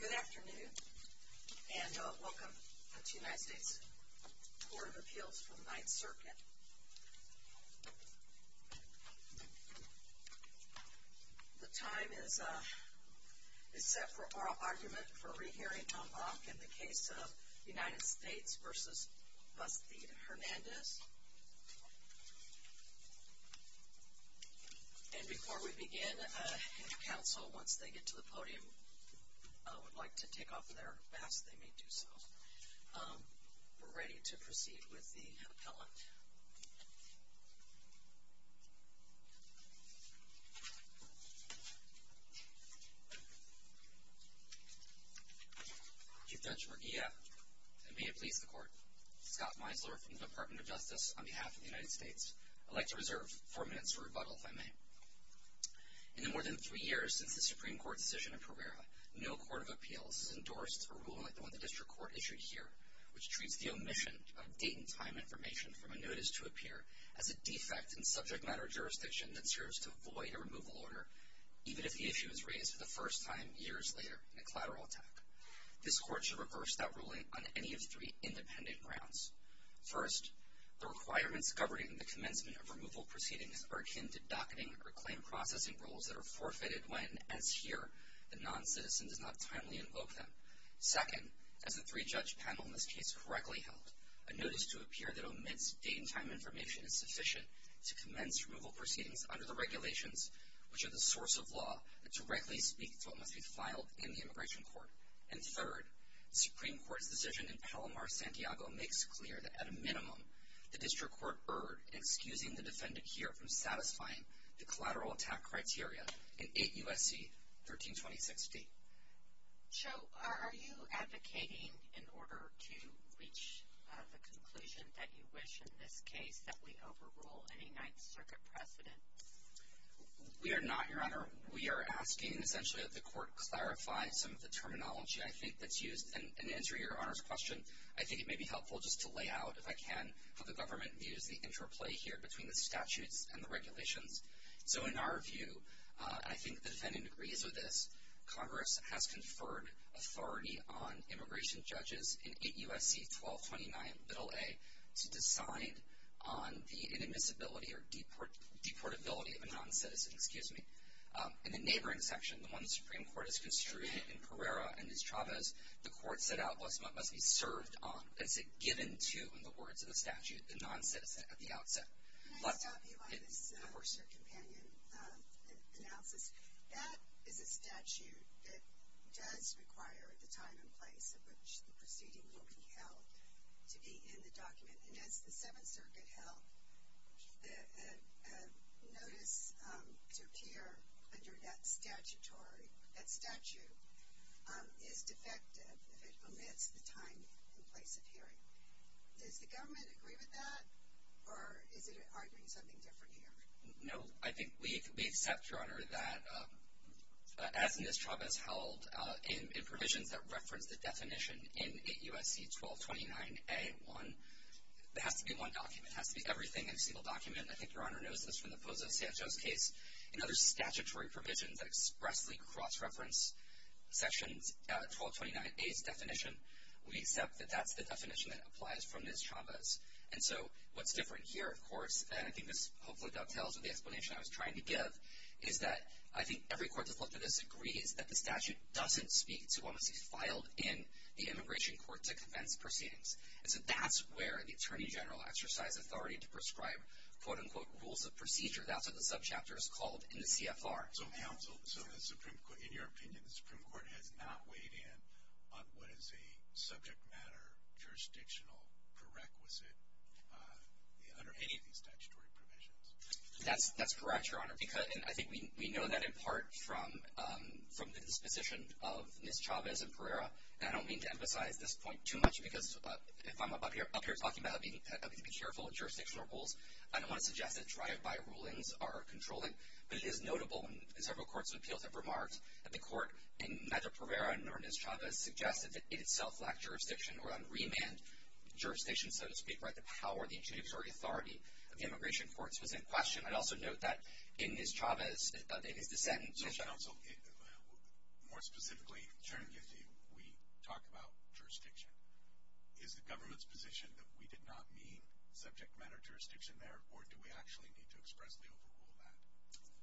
Good afternoon and welcome to the United States Court of Appeals for the Ninth Circuit. The time is set for oral argument for re-hearing en bloc in the case of United States v. Bastide-Hernandez. And before we begin, if counsel, once they get to the podium, would like to take off their masks, they may do so. We're ready to proceed with the appellant. Chief Judge Murguía, and may it please the Court, Scott Meisler from the Department of Justice on behalf of the United States. I'd like to reserve four minutes for rebuttal, if I may. In the more than three years since the Supreme Court decision in Pereira, no court of appeals has endorsed a ruling like the one the District Court issued here, which treats the omission of date and time information from a notice to appear as a defect in subject matter jurisdiction that serves to void a removal order, even if the issue is raised for the first time years later in a collateral attack. This Court should reverse that ruling on any of three independent grounds. First, the requirements governing the commencement of removal proceedings are akin to docketing or claim processing rules that are forfeited when, as here, the non-citizen does not timely invoke them. Second, as the three-judge panel in this case correctly held, a notice to appear that omits date and time information is sufficient to commence removal proceedings under the regulations, which are the source of law that directly speak to what must be filed in the Immigration Court. And third, the Supreme Court's decision in Palomar, Santiago makes clear that at a minimum, the District Court erred in excusing the defendant here from satisfying the collateral attack criteria in 8 U.S.C. 1326d. So, are you advocating, in order to reach the conclusion that you wish in this case, that we overrule any Ninth Circuit precedent? We are not, Your Honor. We are asking, essentially, that the Court clarify some of the terminology, I think, that's used. And to answer Your Honor's question, I think it may be helpful just to lay out, if I can, how the government views the interplay here between the statutes and the regulations. So, in our view, and I think the defendant agrees with this, Congress has conferred authority on immigration judges in 8 U.S.C. 1229, Bill A, to decide on the inadmissibility or deportability of a non-citizen. In the neighboring section, the one the Supreme Court has construed in Pereira and in Chavez, the Court set out what must be served on, as it given to, in the words of the statute, the non-citizen at the outset. Can I stop you on this, Mr. Companion, analysis? That is a statute that does require the time and place at which the proceeding will be held to be in the document. And as the Seventh Circuit held, the notice to appear under that statutory, that statute, is defective if it omits the time and place of hearing. Does the government agree with that, or is it arguing something different here? No, I think we accept, Your Honor, that, as Ms. Chavez held, in provisions that reference the definition in 8 U.S.C. 1229A1, there has to be one document. It has to be everything in a single document. I think Your Honor knows this from the Pozo Sanchez case. In other statutory provisions that expressly cross-reference Section 1229A's definition, we accept that that's the definition that applies from Ms. Chavez. And so what's different here, of course, and I think this hopefully dovetails with the explanation I was trying to give, is that I think every court that's looked at this agrees that the statute doesn't speak to what must be filed in the Immigration Court to convince proceedings. And so that's where the Attorney General exercised authority to prescribe, quote-unquote, rules of procedure. That's what the subchapter is called in the CFR. So, counsel, so the Supreme Court, in your opinion, the Supreme Court has not weighed in on what is a subject matter jurisdictional prerequisite under any of these statutory provisions? That's correct, Your Honor, because I think we know that in part from the disposition of Ms. Chavez and Pereira. And I don't mean to emphasize this point too much because if I'm up here talking about having to be careful with jurisdictional rules, I don't want to suggest that drive-by rulings are controlling. But it is notable, and several courts of appeals have remarked, that the court in Madre Pereira or Ms. Chavez suggested that it itself lacked jurisdiction or unremanned jurisdiction, so to speak, by the power of the judiciary authority of the Immigration Court. So it's in question. I'd also note that in Ms. Chavez, in his dissent, So, counsel, more specifically, Chairman Giffey, we talk about jurisdiction. Is the government's position that we did not mean subject matter jurisdiction there, or do we actually need to expressly overrule that?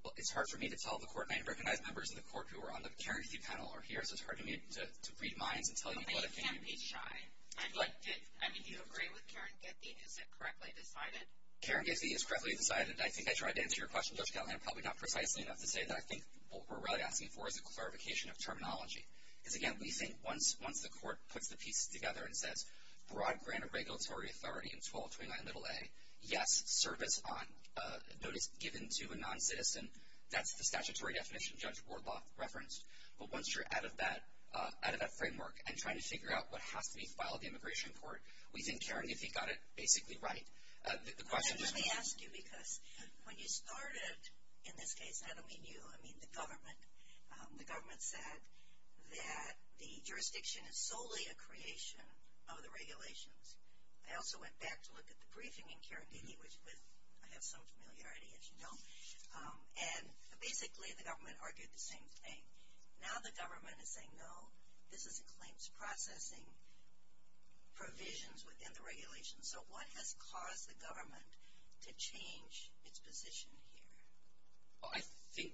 Well, it's hard for me to tell the court. I recognize members of the court who are on the Karen Giffey panel are here, so it's hard for me to read minds and tell you what I think. I mean, you can't be shy. I mean, do you agree with Karen Giffey? Is it correctly decided? Karen Giffey is correctly decided. I think I tried to answer your question, Judge Callahan, probably not precisely enough to say that. I think what we're really asking for is a clarification of terminology. Because, again, we think once the court puts the pieces together and says, broad grant of regulatory authority in 1229a, yes, service on notice given to a noncitizen, that's the statutory definition Judge Wardloff referenced. But once you're out of that framework and trying to figure out what has to be filed in the Immigration Court, we think Karen Giffey got it basically right. The question just was – Let me ask you, because when you started, in this case, I don't mean you, I mean the government, the government said that the jurisdiction is solely a creation of the regulations. I also went back to look at the briefing in Karen Giffey, which I have some familiarity, as you know, and basically the government argued the same thing. Now the government is saying, no, this is a claims processing provisions within the regulations. So what has caused the government to change its position here? Well, I think,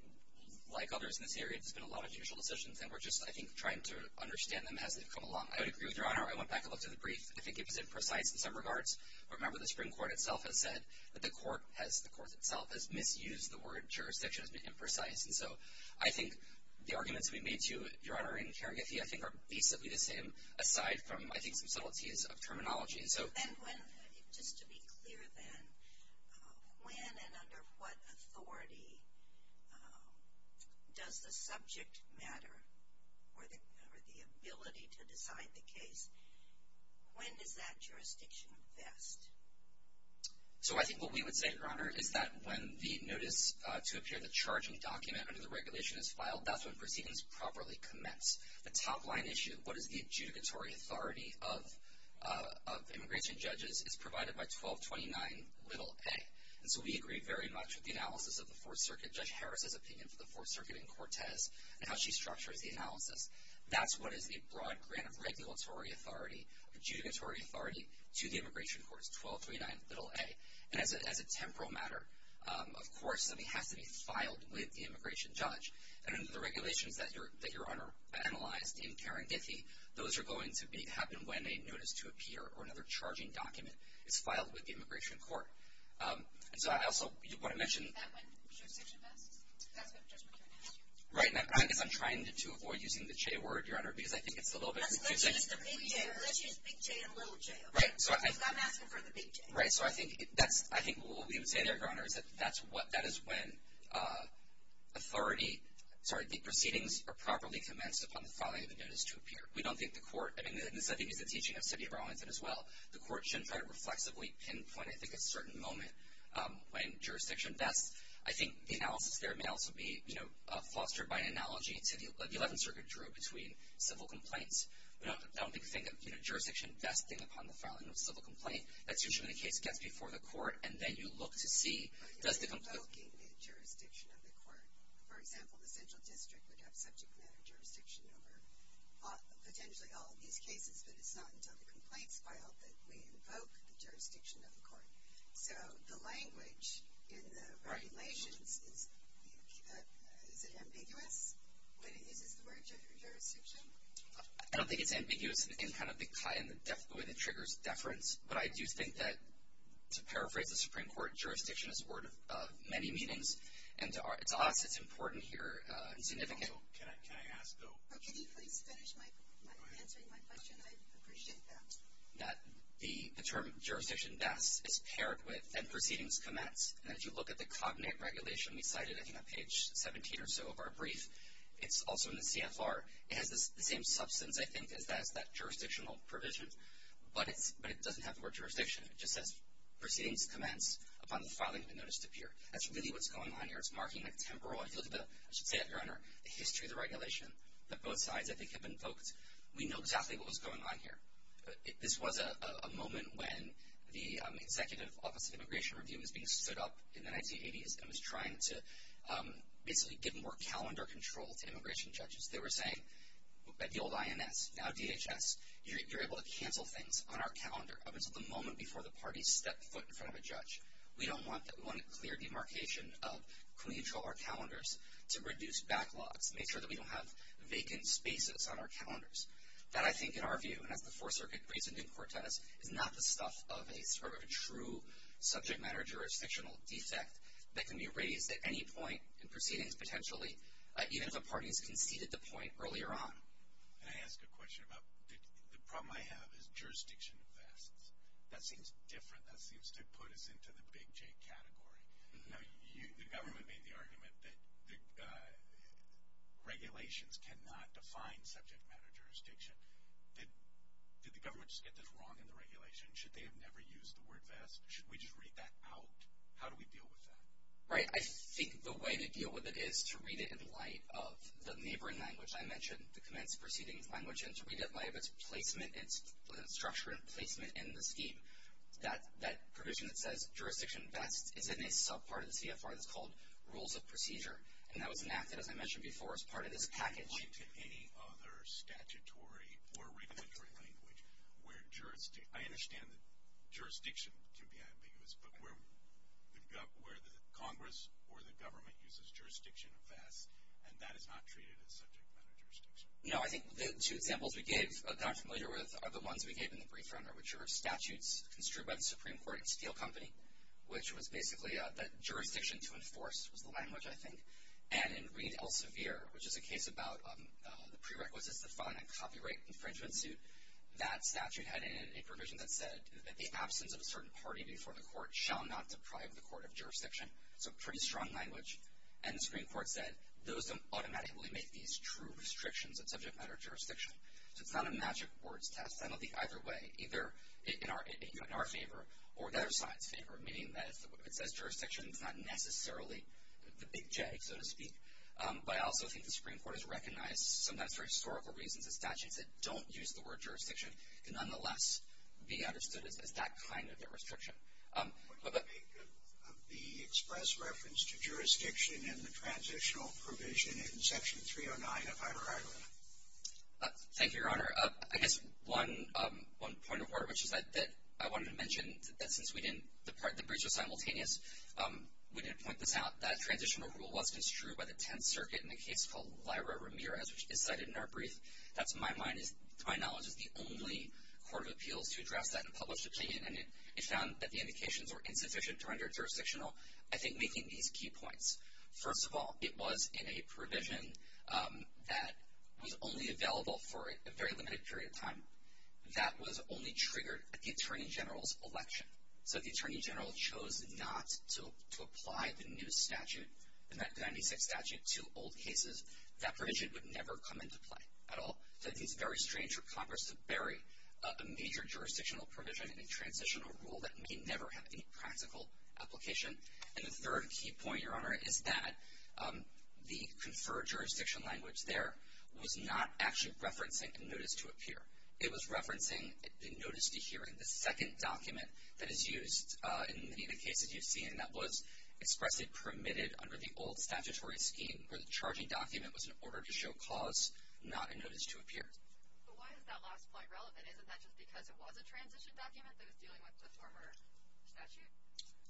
like others in this area, there's been a lot of judicial decisions, and we're just, I think, trying to understand them as they've come along. I would agree with Your Honor. I went back and looked at the brief. I think it was imprecise in some regards. Remember, the Supreme Court itself has said that the court has – the court itself has misused the word jurisdiction. It's been imprecise. And so I think the arguments we made to Your Honor in Karen Giffey, I think, are basically the same, aside from, I think, some subtleties of terminology. And just to be clear then, when and under what authority does the subject matter or the ability to decide the case, when does that jurisdiction invest? So I think what we would say, Your Honor, is that when the notice to appear the charging document under the regulation is filed, that's when proceedings properly commence. The top line issue, what is the adjudicatory authority of immigration judges, is provided by 1229 little a. And so we agree very much with the analysis of the Fourth Circuit, Judge Harris's opinion for the Fourth Circuit and Cortez, and how she structures the analysis. That's what is the broad grant of regulatory authority, adjudicatory authority to the immigration courts, 1229 little a. And as a temporal matter, of course, something has to be filed with the immigration judge. And under the regulations that Your Honor analyzed in Karen Giffey, those are going to happen when a notice to appear or another charging document is filed with the immigration court. And so I also want to mention... Is that when jurisdiction invests? That's what Judge McCarron asked you. Right. I guess I'm trying to avoid using the J word, Your Honor, because I think it's a little bit confusing. Let's use big J and little j. Right. Because I'm asking for the big J. Right. So I think what we would say there, Your Honor, is that that is when authority... Sorry, the proceedings are properly commenced upon the filing of the notice to appear. We don't think the court... I mean, this, I think, is the teaching of City of Arlington as well. The court shouldn't try to reflexively pinpoint, I think, a certain moment when jurisdiction invests. I think the analysis there may also be fostered by an analogy that the Eleventh Circuit drew between civil complaints. We don't think of jurisdiction investing upon the filing of a civil complaint. That's usually when the case gets before the court, and then you look to see... But you're invoking the jurisdiction of the court. For example, the Central District would have subject matter jurisdiction over potentially all of these cases, but it's not until the complaints file that we invoke the jurisdiction of the court. So the language in the regulations, is it ambiguous when it uses the word jurisdiction? I don't think it's ambiguous in kind of the way that triggers deference, but I do think that, to paraphrase the Supreme Court, jurisdiction is a word of many meanings. And to us, it's important here and significant. Also, can I ask a question? Can you please finish answering my question? I appreciate that. That the term jurisdiction invests is paired with, and proceedings commence. And if you look at the cognate regulation, we cite it, I think, on page 17 or so of our brief. It's also in the CFR. It has the same substance, I think, as that jurisdictional provision, but it doesn't have the word jurisdiction. It just says, proceedings commence upon the filing of a notice to appear. That's really what's going on here. It's marking a temporal, I feel a little bit, I should say, Your Honor, the history of the regulation that both sides, I think, have invoked. We know exactly what was going on here. This was a moment when the Executive Office of Immigration Review was being stood up in the 1980s and was trying to basically give more calendar control to immigration judges. They were saying, at the old INS, now DHS, you're able to cancel things on our calendar up until the moment before the parties step foot in front of a judge. We don't want that. We want a clear demarcation of, can we control our calendars to reduce backlogs, make sure that we don't have vacant spaces on our calendars. That, I think, in our view, and that's the Fourth Circuit case in New Cortez, is not the stuff of a sort of a true subject matter jurisdictional defect that can be raised at any point in proceedings, potentially, even if a party has conceded the point earlier on. Can I ask a question about, the problem I have is jurisdiction vests. That seems different. That seems to put us into the Big J category. Now, the government made the argument that regulations cannot define subject matter jurisdiction. Did the government just get this wrong in the regulation? Should they have never used the word vest? Should we just read that out? How do we deal with that? Right. I think the way to deal with it is to read it in light of the neighboring language I mentioned, the commenced proceedings language, and to read it in light of its structure and placement in the scheme. That provision that says jurisdiction vests is in a subpart of the CFR that's called Rules of Procedure, and that was enacted, as I mentioned before, as part of this package. In light of any other statutory or regulatory language, I understand that jurisdiction can be ambiguous, but where the Congress or the government uses jurisdiction vests, and that is not treated as subject matter jurisdiction. No, I think the two examples we got familiar with are the ones we gave in the brief run, which are statutes construed by the Supreme Court in Steel Company, which was basically that jurisdiction to enforce was the language, I think. And in Reed Elsevier, which is a case about the prerequisites to find a copyright infringement suit, that statute had in it a provision that said that the absence of a certain party before the court shall not deprive the court of jurisdiction. It's a pretty strong language. And the Supreme Court said those don't automatically make these true restrictions of subject matter jurisdiction. So it's not a magic words test. I don't think either way, either in our favor or the other side's favor, meaning that it says jurisdiction, it's not necessarily the big J, so to speak. But I also think the Supreme Court has recognized, sometimes for historical reasons, that statutes that don't use the word jurisdiction can nonetheless be understood as that kind of a restriction. Would you make the express reference to jurisdiction in the transitional provision in Section 309 of IHRA? Thank you, Your Honor. I guess one point of order, which is that I wanted to mention that since the briefs were simultaneous, we didn't point this out. That transitional rule was construed by the Tenth Circuit in a case called Lyra Ramirez, which is cited in our brief. That, to my knowledge, is the only court of appeals to address that in a published opinion. And it found that the indications were insufficient to render it jurisdictional. I think making these key points. First of all, it was in a provision that was only available for a very limited period of time. That was only triggered at the Attorney General's election. So if the Attorney General chose not to apply the new statute, the 1996 statute, to old cases, that provision would never come into play at all. So I think it's very strange for Congress to bury a major jurisdictional provision in a transitional rule that may never have any practical application. And the third key point, Your Honor, is that the conferred jurisdiction language there was not actually referencing a notice to appear. It was referencing the notice to hearing, the second document that is used in many of the cases you've seen, that was expressly permitted under the old statutory scheme, where the charging document was an order to show cause, not a notice to appear. But why is that last point relevant? Isn't that just because it was a transition document that was dealing with the former statute?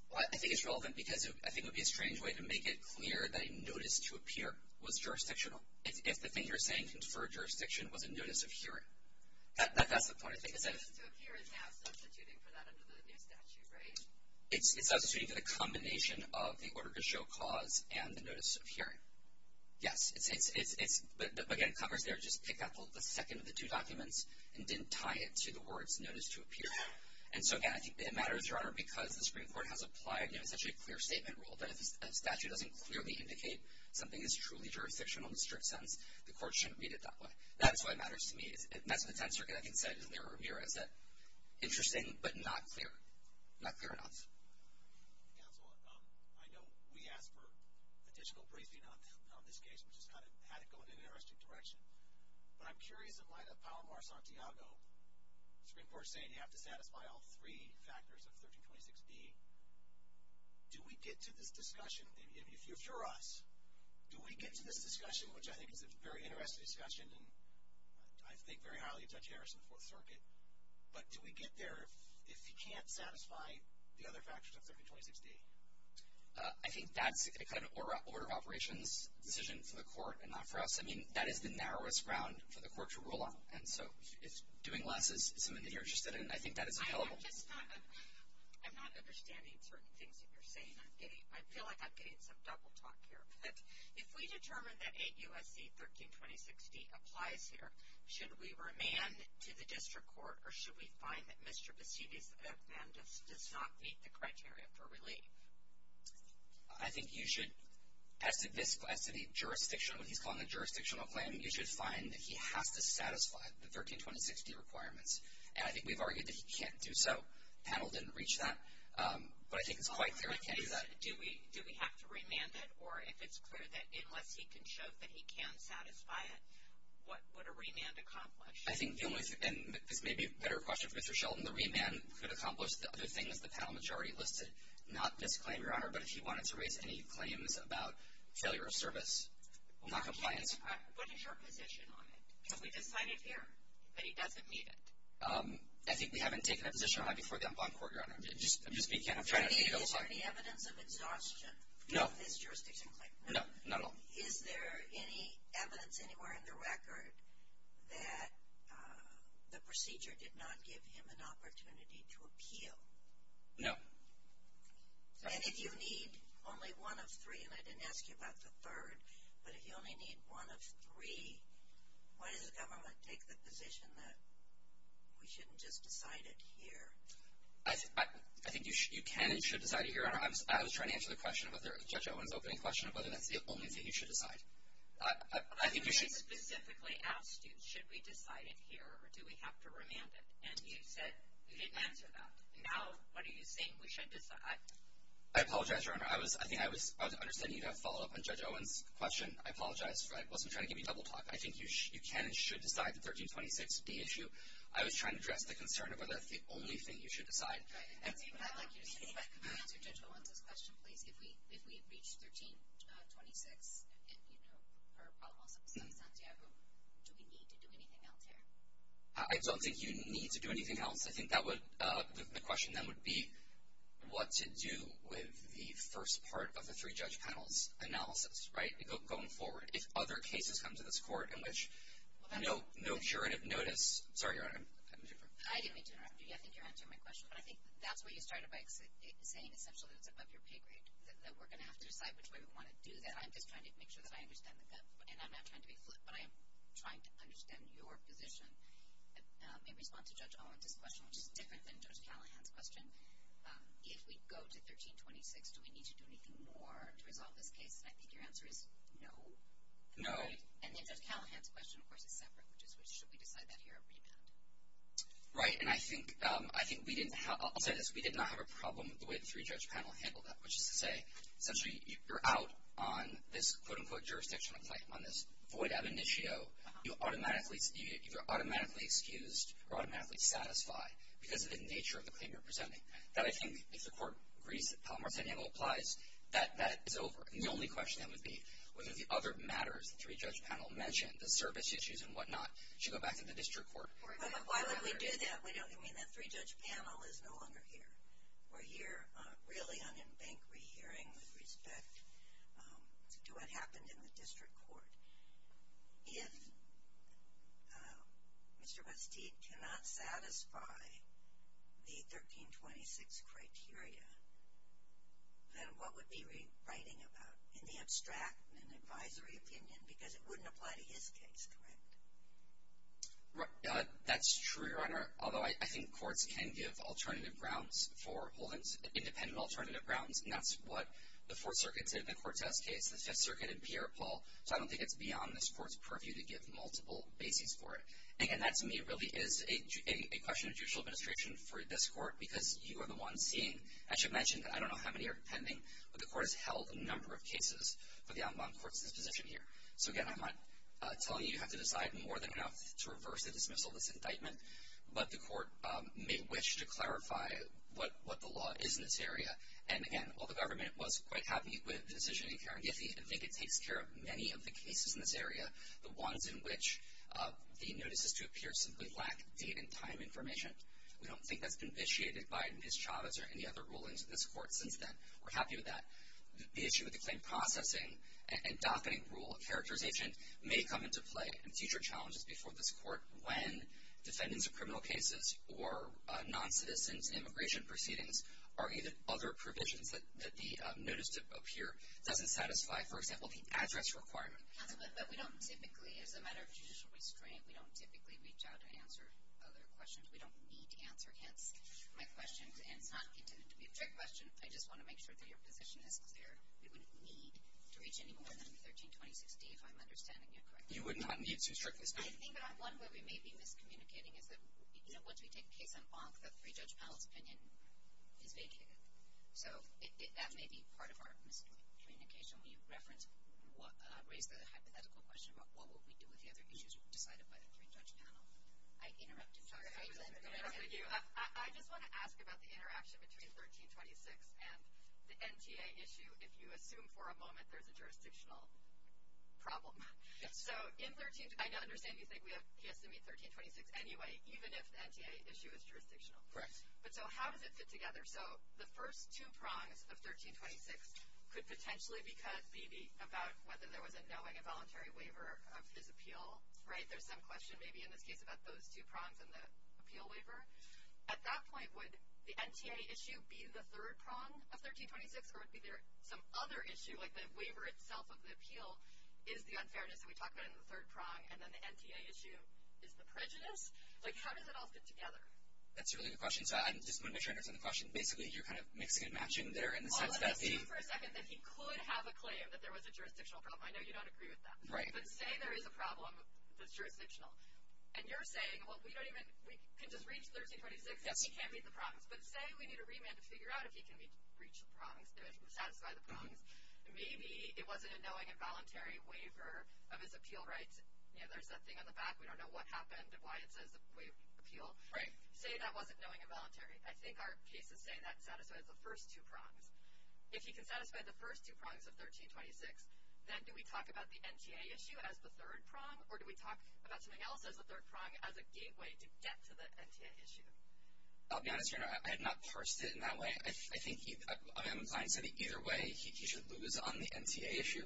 Well, I think it's relevant because I think it would be a strange way to make it clear that a notice to appear was jurisdictional, if the thing you're saying, conferred jurisdiction, was a notice of hearing. That's the point I think. Because notice to appear is now substituting for that under the new statute, right? It's substituting for the combination of the order to show cause and the notice of hearing. Yes. But, again, Congress there just picked up the second of the two documents and didn't tie it to the words notice to appear. And so, again, I think it matters, Your Honor, because the Supreme Court has applied essentially a clear statement rule that if a statute doesn't clearly indicate something is truly jurisdictional in the strict sense, the court shouldn't read it that way. That's why it matters to me. That's what the Tenth Circuit, I think, said in their review. Interesting but not clear. Not clear enough. Counsel, I know we asked for a digital briefing on this case, which has had it going in an interesting direction. But I'm curious in light of Palomar-Santiago, the Supreme Court saying you have to satisfy all three factors of 1326B, do we get to this discussion, if you're us, do we get to this discussion, which I think is a very interesting discussion and I think very highly of Judge Harris in the Fourth Circuit. But do we get there if you can't satisfy the other factors of 1326D? I think that's kind of an order of operations decision for the court and not for us. I mean, that is the narrowest ground for the court to rule on. And so if doing less is something that you're interested in, I think that is available. I'm not understanding certain things that you're saying. I feel like I'm getting some double talk here. If we determine that 8 U.S.C. 1326D applies here, should we remand to the district court or should we find that Mr. Basidi's amendment does not meet the criteria for relief? I think you should, as to the jurisdiction, when he's calling a jurisdictional claim, you should find that he has to satisfy the 1326D requirements. And I think we've argued that he can't do so. The panel didn't reach that. But I think it's quite clear he can't do that. Do we have to remand it? Or if it's clear that unless he can show that he can satisfy it, what would a remand accomplish? I think the only thing, and this may be a better question for Mr. Sheldon, the remand could accomplish the other things the panel majority listed. Not this claim, Your Honor, but if he wanted to raise any claims about failure of service, not compliance. What is your position on it? Because we decided here that he doesn't meet it. I think we haven't taken a position on it before the en banc court, Your Honor. For me, is there any evidence of exhaustion of his jurisdiction claim? No, not at all. Is there any evidence anywhere in the record that the procedure did not give him an opportunity to appeal? No. And if you need only one of three, and I didn't ask you about the third, but if you only need one of three, why does the government take the position that we shouldn't just decide it here? I think you can and should decide it here, Your Honor. I was trying to answer the question about Judge Owen's opening question of whether that's the only thing you should decide. I think you should. But we specifically asked you, should we decide it here or do we have to remand it? And you said you didn't answer that. Now what are you saying? We should decide. I apologize, Your Honor. I think I was understanding you have a follow-up on Judge Owen's question. I apologize. I wasn't trying to give you double talk. I think you can and should decide the 1326D issue. I was trying to address the concern of whether that's the only thing you should decide. Right. Can you answer Judge Owen's question, please? If we reach 1326 and, you know, her problem also besides Santiago, do we need to do anything else here? I don't think you need to do anything else. I think the question then would be what to do with the first part of the three-judge panel's analysis, right, going forward. If other cases come to this Court in which no juridic notice. Sorry, Your Honor. I didn't mean to interrupt you. I think you're answering my question. But I think that's where you started by saying essentially that it's above your pay grade, that we're going to have to decide which way we want to do that. I'm just trying to make sure that I understand that. And I'm not trying to be flippant, but I am trying to understand your position in response to Judge Owen's question, which is different than Judge Callahan's question. If we go to 1326, do we need to do anything more to resolve this case? And I think your answer is no. No. And then Judge Callahan's question, of course, is separate, which is should we decide that here or rebound? Right. And I think we didn't have – I'll say this. We did not have a problem with the way the three-judge panel handled that, which is to say essentially you're out on this quote-unquote jurisdictional claim, on this void ab initio. You're automatically excused or automatically satisfied because of the nature of the claim you're presenting. That I think, if the Court agrees that Palmar-San Diego applies, that that is over. And the only question that would be whether the other matters, the three-judge panel mentioned, the service issues and whatnot, should go back to the district court. Why would we do that? We don't – I mean, the three-judge panel is no longer here. We're here really on embankment hearing with respect to what happened in the district court. If Mr. Bastique cannot satisfy the 1326 criteria, then what would be writing about in the abstract an advisory opinion? Because it wouldn't apply to his case, correct? That's true, Your Honor, although I think courts can give alternative grounds for holdings, independent alternative grounds, and that's what the Fourth Circuit did in Cortez's case, and that's what the Fifth Circuit did in Pierre Paul. So I don't think it's beyond this Court's purview to give multiple bases for it. And, again, that to me really is a question of judicial administration for this Court because you are the one seeing – I should mention that I don't know how many are pending, but the Court has held a number of cases for the en banc court's disposition here. So, again, I'm not telling you you have to decide more than enough to reverse the dismissal of this indictment, but the Court may wish to clarify what the law is in this area. And, again, while the government was quite happy with the decision in Karen Giffey, I think it takes care of many of the cases in this area, the ones in which the notices to appear simply lack date and time information. We don't think that's been vitiated by Ms. Chavez or any other rulings in this Court since then. We're happy with that. The issue with the claim processing and docketing rule of characterization may come into play in future challenges before this Court when defendants of criminal cases or non-citizen immigration proceedings argue that other provisions that the notice to appear doesn't satisfy, for example, the address requirement. Counsel, but we don't typically, as a matter of judicial restraint, we don't typically reach out to answer other questions. We don't need to answer, hence my questions. And it's not intended to be a trick question. I just want to make sure that your position is clear. We wouldn't need to reach any more than 132060, if I'm understanding you correctly. You would not need to, strictly speaking. I think one where we may be miscommunicating is that, you know, once we take a case on bonk, the three-judge panel's opinion is vacated. So that may be part of our miscommunication. Will you raise the hypothetical question about what will we do with the other issues decided by the three-judge panel? I interrupted. Sorry. I just want to ask about the interaction between 1326 and the NTA issue, if you assume for a moment there's a jurisdictional problem. I understand you think he has to meet 1326 anyway, even if the NTA issue is jurisdictional. Correct. But so how does it fit together? So the first two prongs of 1326 could potentially be about whether there was a knowing and voluntary waiver of his appeal, right? There's some question maybe in this case about those two prongs and the appeal waiver. At that point, would the NTA issue be the third prong of 1326, or would there be some other issue like the waiver itself of the appeal is the unfairness that we talked about in the third prong, and then the NTA issue is the prejudice? Like, how does it all fit together? That's a really good question. So I just want to make sure I understand the question. Basically, you're kind of mixing and matching there in the sense that the — I'll let him speak for a second that he could have a claim that there was a jurisdictional problem. I know you don't agree with that. Right. But say there is a problem that's jurisdictional. And you're saying, well, we don't even — we can just reach 1326 and he can't meet the prongs. Yes. But say we need a remand to figure out if he can reach the prongs, if he can satisfy the prongs. Maybe it wasn't a knowing and voluntary waiver of his appeal rights. You know, there's that thing on the back. We don't know what happened and why it says the waiver of appeal. Right. Say that wasn't knowing and voluntary. I think our cases say that satisfies the first two prongs. If he can satisfy the first two prongs of 1326, then do we talk about the NTA issue as the third prong, or do we talk about something else as the third prong as a gateway to get to the NTA issue? I'll be honest here. I have not parsed it in that way. I think I'm inclined to say that either way he should lose on the NTA issue.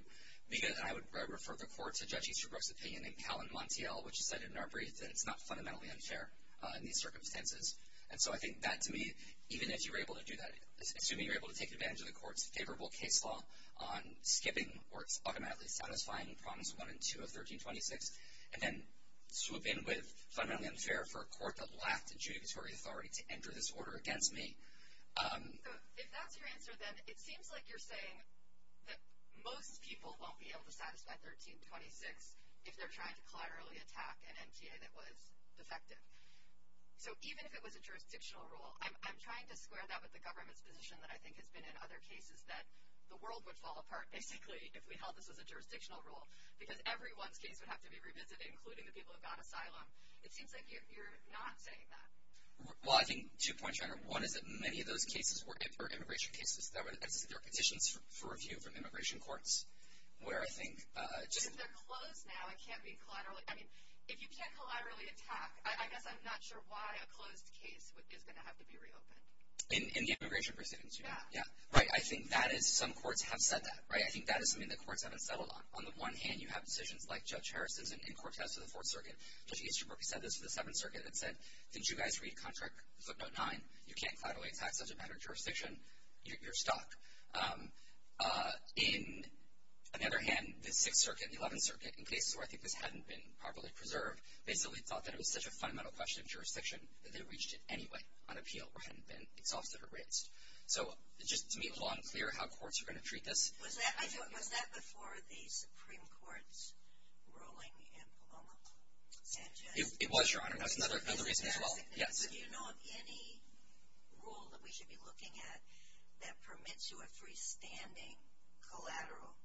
Because I would refer the court to Judge Easterbrook's opinion in Cal and Montiel, which said in our brief that it's not fundamentally unfair in these circumstances. And so I think that, to me, even if you were able to do that, assuming you were able to take advantage of the court's favorable case law on skipping or automatically satisfying prongs one and two of 1326, and then swoop in with fundamentally unfair for a court that lacked adjudicatory authority to enter this order against me. So if that's your answer, then it seems like you're saying that most people won't be able to satisfy 1326 if they're trying to collaterally attack an NTA that was defective. So even if it was a jurisdictional rule, I'm trying to square that with the government's position that I think has been in other cases that the world would fall apart basically if we held this as a jurisdictional rule. Because everyone's case would have to be revisited, including the people who got asylum. It seems like you're not saying that. Well, I think two points, Rhonda. One is that many of those cases were immigration cases. There were petitions for review from immigration courts where I think... But if they're closed now, it can't be collateral. I mean, if you can't collaterally attack, I guess I'm not sure why a closed case is going to have to be reopened. In the immigration proceedings, you mean? Yeah. Right, I think that is, some courts have said that, right? I think that is something that courts haven't settled on. On the one hand, you have decisions like Judge Harrison's in court tests for the Fourth Circuit. Judge Easterbrook said this for the Seventh Circuit. It said, did you guys read Contract Footnote 9? You can't collaterally attack such a matter of jurisdiction. You're stuck. On the other hand, the Sixth Circuit and the Eleventh Circuit, in cases where I think this hadn't been properly preserved, basically thought that it was such a fundamental question of jurisdiction that they reached it anyway on appeal where it hadn't been exhausted or raised. So, just to make it long and clear how courts are going to treat this. Was that before the Supreme Court's ruling in Paloma? It was, Your Honor. That's another reason as well. Yes. Do you know of any rule that we should be looking at that permits you a freestanding collateral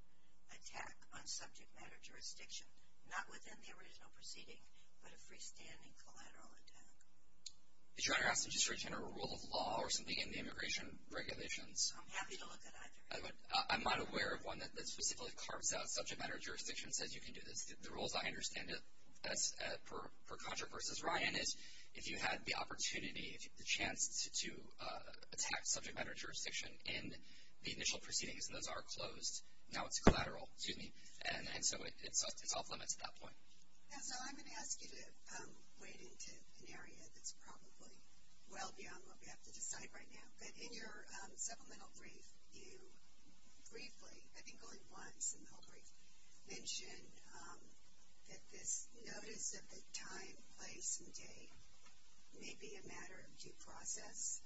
attack on subject matter jurisdiction, not within the original proceeding, but a freestanding collateral attack? Did Your Honor ask to just retain a rule of law or something in the immigration regulations? I'm happy to look at either. I'm not aware of one that specifically carves out subject matter jurisdiction and says you can do this. The rules I understand as per Contract v. Ryan is if you had the opportunity, the chance to attack subject matter jurisdiction in the initial proceedings, and those are closed, now it's collateral. And so, it's off limits at that point. And so, I'm going to ask you to wade into an area that's probably well beyond what we have to decide right now. But in your supplemental brief, you briefly, I think only once in the whole brief, mentioned that this notice of the time, place, and date may be a matter of due process.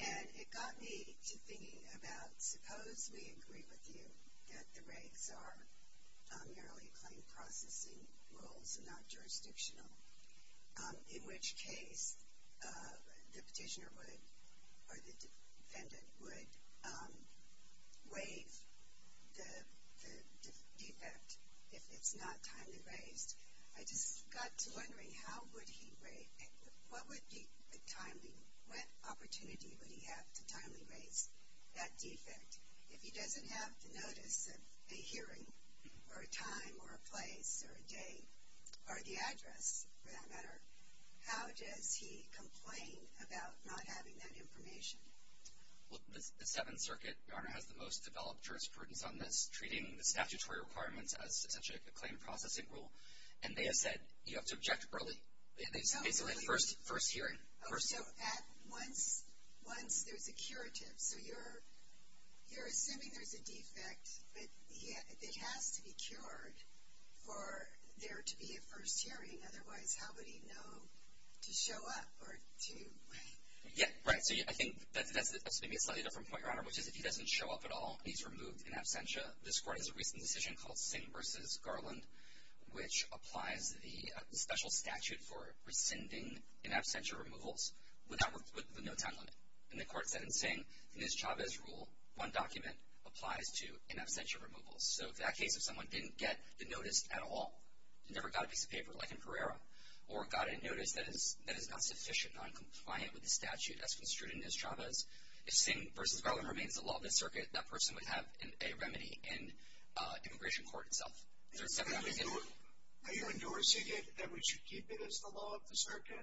And it got me to thinking about suppose we agree with you that the raids are merely claim processing rules and not jurisdictional, in which case the petitioner would, or the defendant would, waive the defect if it's not timely raised. I just got to wondering how would he, what would be the timely, what opportunity would he have to timely raise that defect? If he doesn't have the notice of a hearing, or a time, or a place, or a date, or the address, for that matter, how does he complain about not having that information? Well, the Seventh Circuit, Your Honor, has the most developed jurisprudence on this, as such a claim processing rule. And they have said you have to object early. It's basically first hearing. Oh, so at once there's a curative. So you're assuming there's a defect, but it has to be cured for there to be a first hearing. Otherwise, how would he know to show up or to waive? Yeah, right. So I think that's a slightly different point, Your Honor, which is if he doesn't show up at all, he's removed in absentia. This court has a recent decision called Singh v. Garland, which applies the special statute for rescinding in absentia removals with the no time limit. And the court said in Singh, in his Chavez rule, one document applies to in absentia removals. So in that case, if someone didn't get the notice at all, never got a piece of paper, like in Pereira, or got a notice that is not sufficient, not compliant with the statute as construed in his Chavez, if Singh v. Garland remains the law of the circuit, that person would have a remedy in immigration court itself. Are you endorsing it, that we should keep it as the law of the circuit?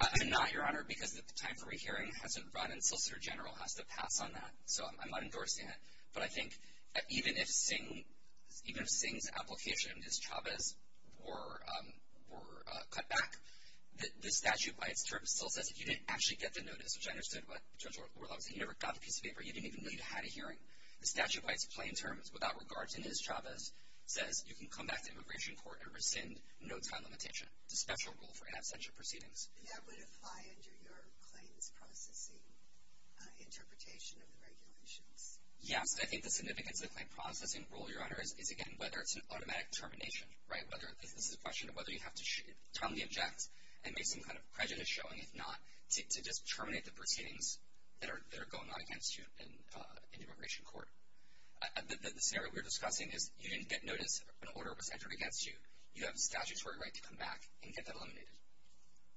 I'm not, Your Honor, because the time for rehearing hasn't run, and Solicitor General has to pass on that. So I'm not endorsing it. But I think that even if Singh's application is Chavez or cut back, the statute by its terms still says that you didn't actually get the notice, which I understood what Judge Orlock was saying. You never got the piece of paper. You didn't even know you'd had a hearing. The statute by its plain terms, without regard to his Chavez, says you can come back to immigration court and rescind no time limitation, the special rule for in absentia proceedings. And that would apply under your claims processing interpretation of the regulations? Yes. I think the significance of the claim processing rule, Your Honor, is, again, whether it's an automatic termination, right, but this is a question of whether you have to timely inject and make some kind of prejudice showing, if not, to just terminate the proceedings that are going on against you in immigration court. The scenario we were discussing is you didn't get notice when an order was entered against you. You have a statutory right to come back and get that eliminated.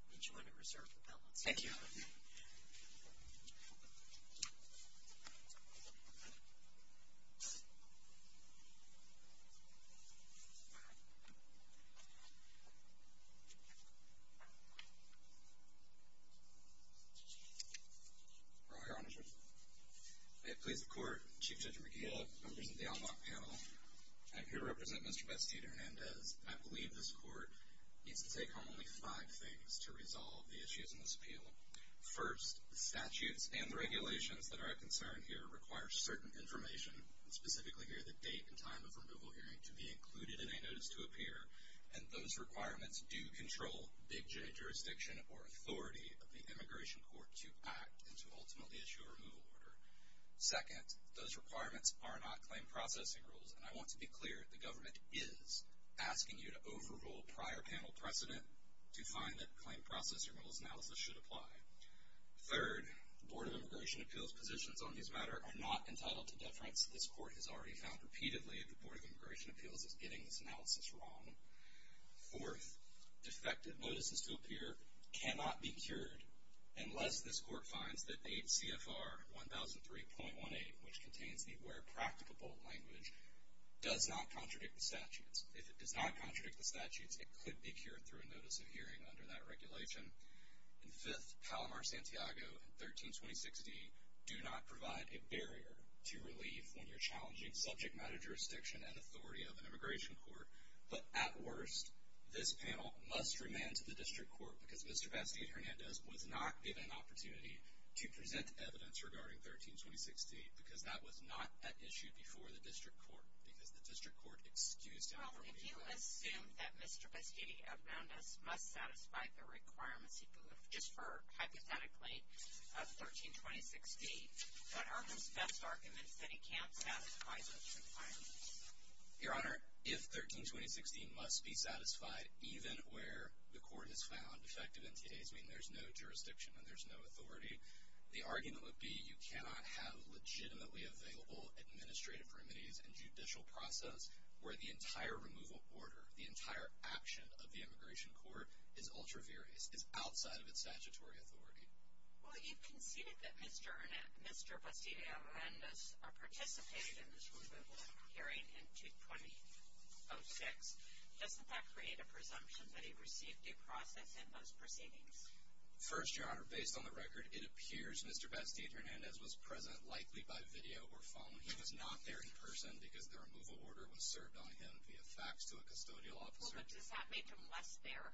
We'll join in reserve with that one. Thank you, Your Honor. Roger, Your Honor. I have the pleas of court. Chief Judge McGill, members of the Onlock panel. I'm here to represent Mr. Bestia Hernandez. I believe this court needs to take home only five things to resolve the issues in this appeal. First, the statutes and regulations that are of concern here require certain information, specifically here the date and time of removal hearing, to be included in a notice to appear, and those requirements do control Big J jurisdiction or authority of the immigration court to act and to ultimately issue a removal order. Second, those requirements are not claim processing rules, and I want to be clear, the government is asking you to overrule prior panel precedent to find that claim processing rules analysis should apply. Third, Board of Immigration Appeals positions on this matter are not entitled to deference. This court has already found repeatedly that the Board of Immigration Appeals is getting this analysis wrong. Fourth, defective notices to appear cannot be cured unless this court finds that H.C.F.R. 1003.18, which contains the where practicable language, does not contradict the statutes. If it does not contradict the statutes, it could be cured through a notice of hearing under that regulation. And fifth, Palomar-Santiago and 13206D do not provide a barrier to relief when you're challenging subject matter jurisdiction and authority of an immigration court. But at worst, this panel must remand to the district court because Mr. Bestia Hernandez was not given an opportunity to present evidence regarding 13206D because that was not at issue before the district court, because the district court excused him from being there. Well, if you assume that Mr. Bestia Hernandez must satisfy the requirements, just for hypothetically, of 13206D, what are his best arguments that he can't satisfy those requirements? Your Honor, if 13206D must be satisfied even where the court has found defective NTAs, I mean, there's no jurisdiction and there's no authority, the argument would be you cannot have legitimately available administrative remedies and judicial process where the entire removal order, the entire action of the immigration court is ultra-various, is outside of its statutory authority. Well, you've conceded that Mr. Bestia Hernandez participated in this removal hearing in 2206. Doesn't that create a presumption that he received due process in those proceedings? First, Your Honor, based on the record, it appears Mr. Bestia Hernandez was present likely by video or phone. He was not there in person because the removal order was served on him via fax to a custodial officer. Well, but does that make him less there?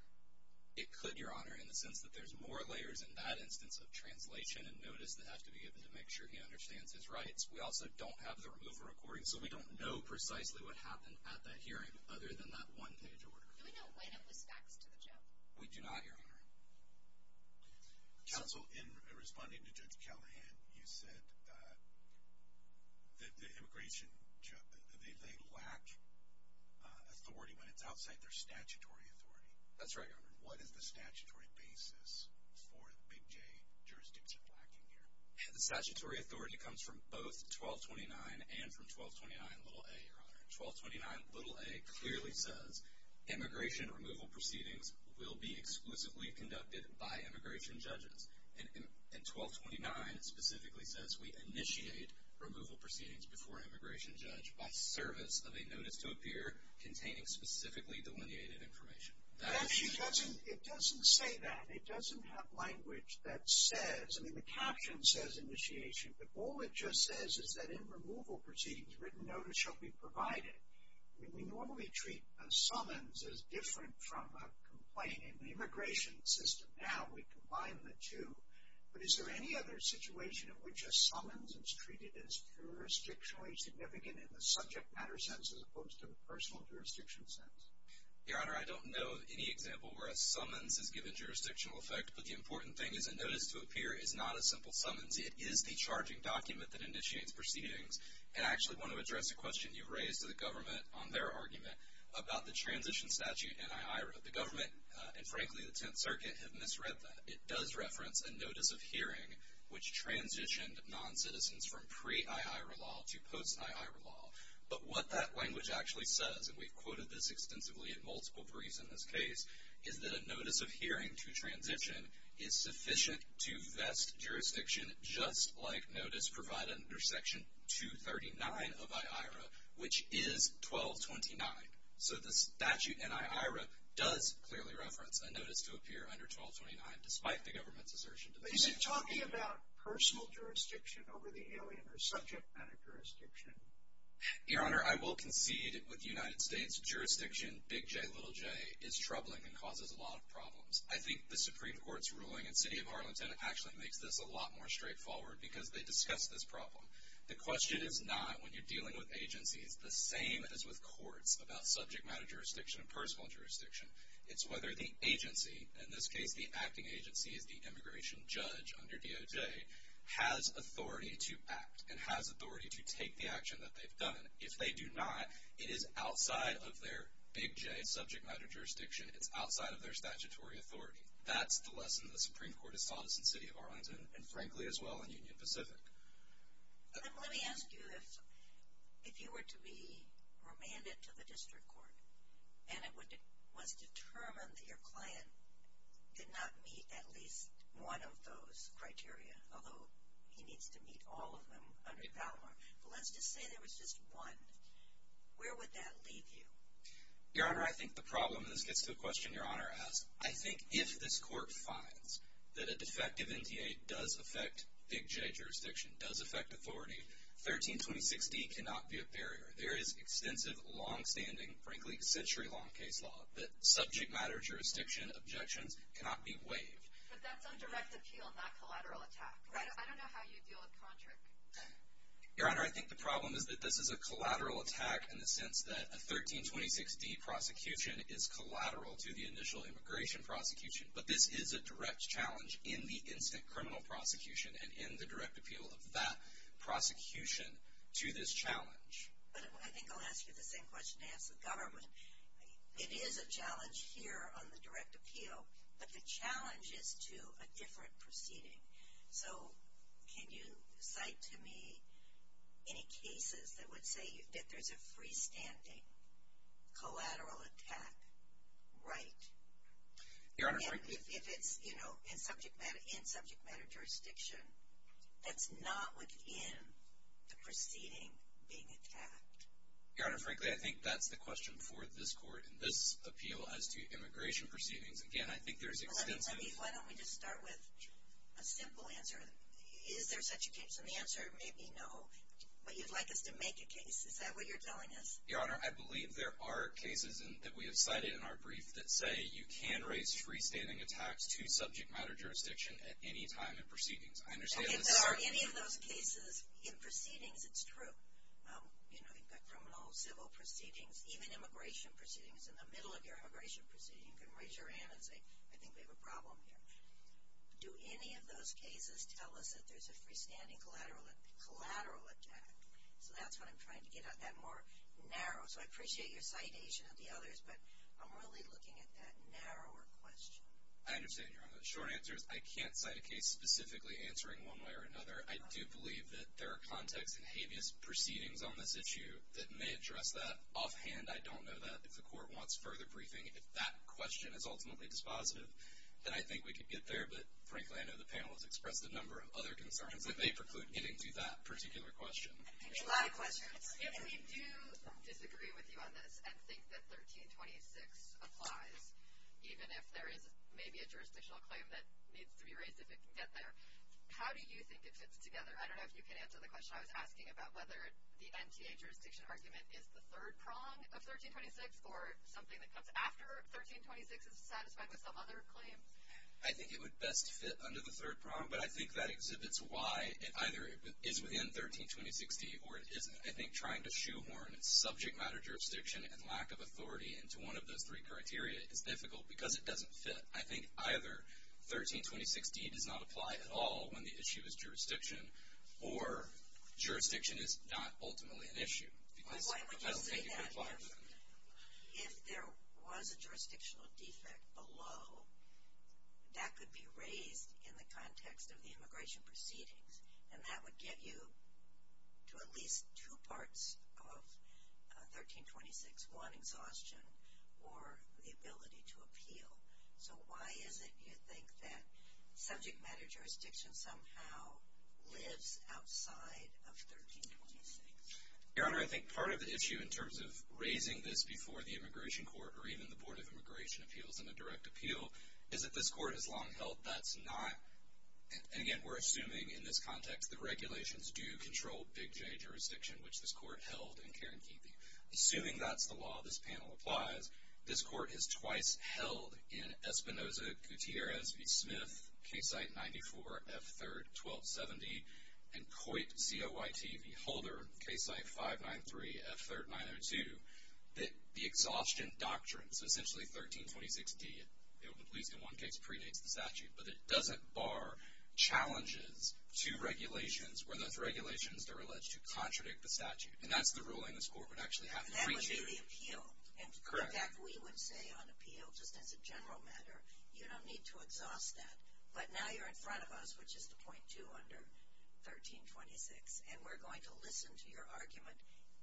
It could, Your Honor, in the sense that there's more layers in that instance of translation and notice that have to be given to make sure he understands his rights. We also don't have the removal recording, so we don't know precisely what happened at that hearing other than that one page order. Do we know when it was faxed to the judge? We do not, Your Honor. Counsel, in responding to Judge Callahan, you said that the immigration, they lack authority when it's outside their statutory authority. That's right, Your Honor. What is the statutory basis for the Big J jurisdiction lacking here? The statutory authority comes from both 1229 and from 1229a, Your Honor. 1229a clearly says immigration removal proceedings will be exclusively conducted by immigration judges, and 1229 specifically says we initiate removal proceedings before an immigration judge by service of a notice to appear containing specifically delineated information. It doesn't say that. It doesn't have language that says, I mean, the caption says initiation, but all it just says is that in removal proceedings, written notice shall be provided. We normally treat a summons as different from a complaint. In the immigration system now, we combine the two, but is there any other situation in which a summons is treated as jurisdictionally significant in the subject matter sense as opposed to the personal jurisdiction sense? Your Honor, I don't know of any example where a summons is given jurisdictional effect, but the important thing is a notice to appear is not a simple summons. It is the charging document that initiates proceedings. And I actually want to address a question you've raised to the government on their argument about the transition statute in IHRA. The government, and frankly the Tenth Circuit, have misread that. It does reference a notice of hearing which transitioned noncitizens from pre-IHRA law to post-IHRA law. But what that language actually says, and we've quoted this extensively in multiple briefs in this case, is that a notice of hearing to transition is sufficient to vest jurisdiction, just like notice provided under Section 239 of IHRA, which is 1229. So the statute in IHRA does clearly reference a notice to appear under 1229, despite the government's assertion to the effect of hearing. But is it talking about personal jurisdiction over the alien or subject matter jurisdiction? Your Honor, I will concede with the United States, jurisdiction, big J, little j, is troubling and causes a lot of problems. I think the Supreme Court's ruling in City of Harlem 10 actually makes this a lot more straightforward because they discuss this problem. The question is not, when you're dealing with agencies, the same as with courts about subject matter jurisdiction and personal jurisdiction. It's whether the agency, in this case the acting agency is the immigration judge under DOJ, has authority to act and has authority to take the action that they've done. If they do not, it is outside of their big J subject matter jurisdiction. It's outside of their statutory authority. That's the lesson the Supreme Court has taught us in City of Harlem 10, and frankly, as well, in Union Pacific. Let me ask you, if you were to be remanded to the district court, and it was determined that your client did not meet at least one of those criteria, although he needs to meet all of them under PALMAR, but let's just say there was just one, where would that leave you? Your Honor, I think the problem, and this gets to the question Your Honor asked, I think if this court finds that a defective NTA does affect big J jurisdiction, does affect authority, 1326D cannot be a barrier. There is extensive, longstanding, frankly, century-long case law that subject matter jurisdiction objections cannot be waived. But that's on direct appeal, not collateral attack. Right. I don't know how you deal with contract. Your Honor, I think the problem is that this is a collateral attack in the sense that a 1326D prosecution is collateral to the initial immigration prosecution, but this is a direct challenge in the instant criminal prosecution and in the direct appeal of that prosecution to this challenge. I think I'll ask you the same question to ask the government. It is a challenge here on the direct appeal, but the challenge is to a different proceeding. So, can you cite to me any cases that would say that there's a freestanding collateral attack, right? Your Honor, frankly. If it's, you know, in subject matter jurisdiction, that's not within the proceeding being attacked. Your Honor, frankly, I think that's the question for this court in this appeal as to immigration proceedings. Again, I think there's extensive. Why don't we just start with a simple answer. Is there such a case? And the answer may be no. But you'd like us to make a case. Is that what you're telling us? Your Honor, I believe there are cases that we have cited in our brief that say you can raise freestanding attacks to subject matter jurisdiction at any time in proceedings. If there are any of those cases in proceedings, it's true. You know, you've got criminal civil proceedings, even immigration proceedings. In the middle of your immigration proceeding, you can raise your hand and say, I think we have a problem here. Do any of those cases tell us that there's a freestanding collateral attack? So, that's what I'm trying to get at, that more narrow. So, I appreciate your citation of the others, but I'm really looking at that narrower question. I understand, Your Honor. The short answer is I can't cite a case specifically answering one way or another. I do believe that there are context and habeas proceedings on this issue that may address that. Offhand, I don't know that. If the court wants further briefing, if that question is ultimately dispositive, then I think we could get there. But, frankly, I know the panel has expressed a number of other concerns that may preclude getting to that particular question. I think there are a lot of questions. If we do disagree with you on this and think that 1326 applies, even if there is maybe a jurisdictional claim that needs to be raised if it can get there, how do you think it fits together? I don't know if you can answer the question I was asking about whether the NTA jurisdiction argument is the third prong of 1326 or something that comes after 1326 is satisfied with some other claim. I think it would best fit under the third prong, but I think that exhibits why it either is within 1326D or it isn't. I think trying to shoehorn subject matter jurisdiction and lack of authority into one of those three criteria is difficult because it doesn't fit. I think either 1326D does not apply at all when the issue is jurisdiction or jurisdiction is not ultimately an issue. Why would you say that? If there was a jurisdictional defect below, that could be raised in the context of the immigration proceedings. And that would get you to at least two parts of 1326. One, exhaustion or the ability to appeal. So why is it you think that subject matter jurisdiction somehow lives outside of 1326? Your Honor, I think part of the issue in terms of raising this before the immigration court or even the Board of Immigration Appeals in a direct appeal is that this court has long held that's not, and again, we're assuming in this context the regulations do control Big J jurisdiction, which this court held in Karen Keefey. Assuming that's the law this panel applies, this court has twice held in Espinoza Gutierrez v. Smith, Case Site 94, F3rd 1270, and Coit Coyt v. Holder, Case Site 593, F3rd 902, that the exhaustion doctrine, so essentially 1326D, at least in one case, predates the statute. But it doesn't bar challenges to regulations where those regulations are alleged to contradict the statute. And that's the ruling this court would actually have to preach to. And that would be the appeal. Correct. In fact, we would say on appeal, just as a general matter, you don't need to exhaust that. But now you're in front of us, which is the point two under 1326. And we're going to listen to your argument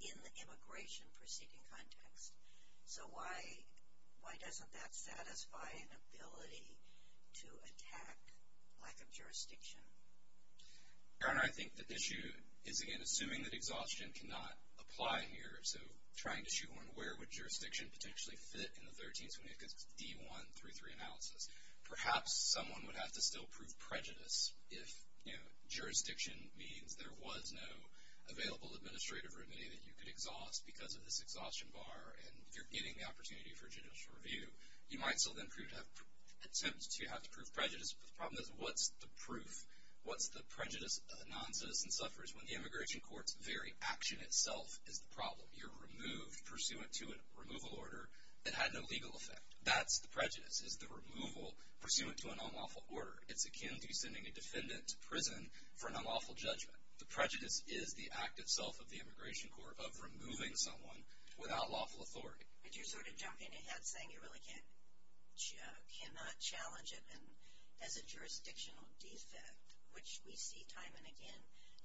in the immigration proceeding context. So why doesn't that satisfy an ability to attack lack of jurisdiction? Your Honor, I think the issue is, again, assuming that exhaustion cannot apply here, so trying to shoehorn where would jurisdiction potentially fit in the 1326D-1-3-3 analysis. Perhaps someone would have to still prove prejudice if, you know, jurisdiction means there was no available administrative remedy that you could exhaust because of this exhaustion bar. And you're getting the opportunity for judicial review. You might still then attempt to have to prove prejudice. But the problem is, what's the proof? What's the prejudice a noncitizen suffers when the immigration court's very action itself is the problem? You're removed pursuant to a removal order that had no legal effect. That's the prejudice, is the removal pursuant to an unlawful order. It's akin to sending a defendant to prison for an unlawful judgment. The prejudice is the act itself of the immigration court of removing someone without lawful authority. But you're sort of jumping ahead saying you really cannot challenge it as a jurisdictional defect, which we see time and again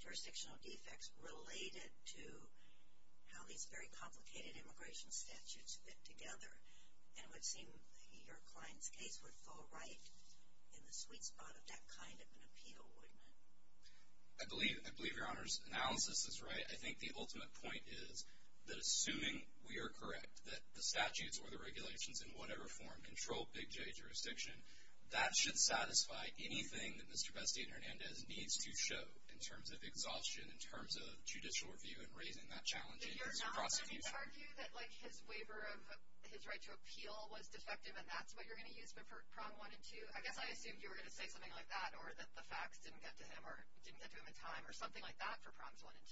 jurisdictional defects related to how these very complicated immigration statutes fit together. And it would seem your client's case would fall right in the sweet spot of that kind of an appeal, wouldn't it? I believe your Honor's analysis is right. I think the ultimate point is that assuming we are correct, that the statutes or the regulations in whatever form control Big J jurisdiction, that should satisfy anything that Mr. Bestia and Hernandez needs to show in terms of exhaustion, in terms of judicial review and raising that challenge as a prosecution. But you're not going to argue that, like, his waiver of his right to appeal was defective and that's what you're going to use for Prong 1 and 2? I guess I assumed you were going to say something like that or that the facts didn't get to him or didn't get to him in time or something like that for Prongs 1 and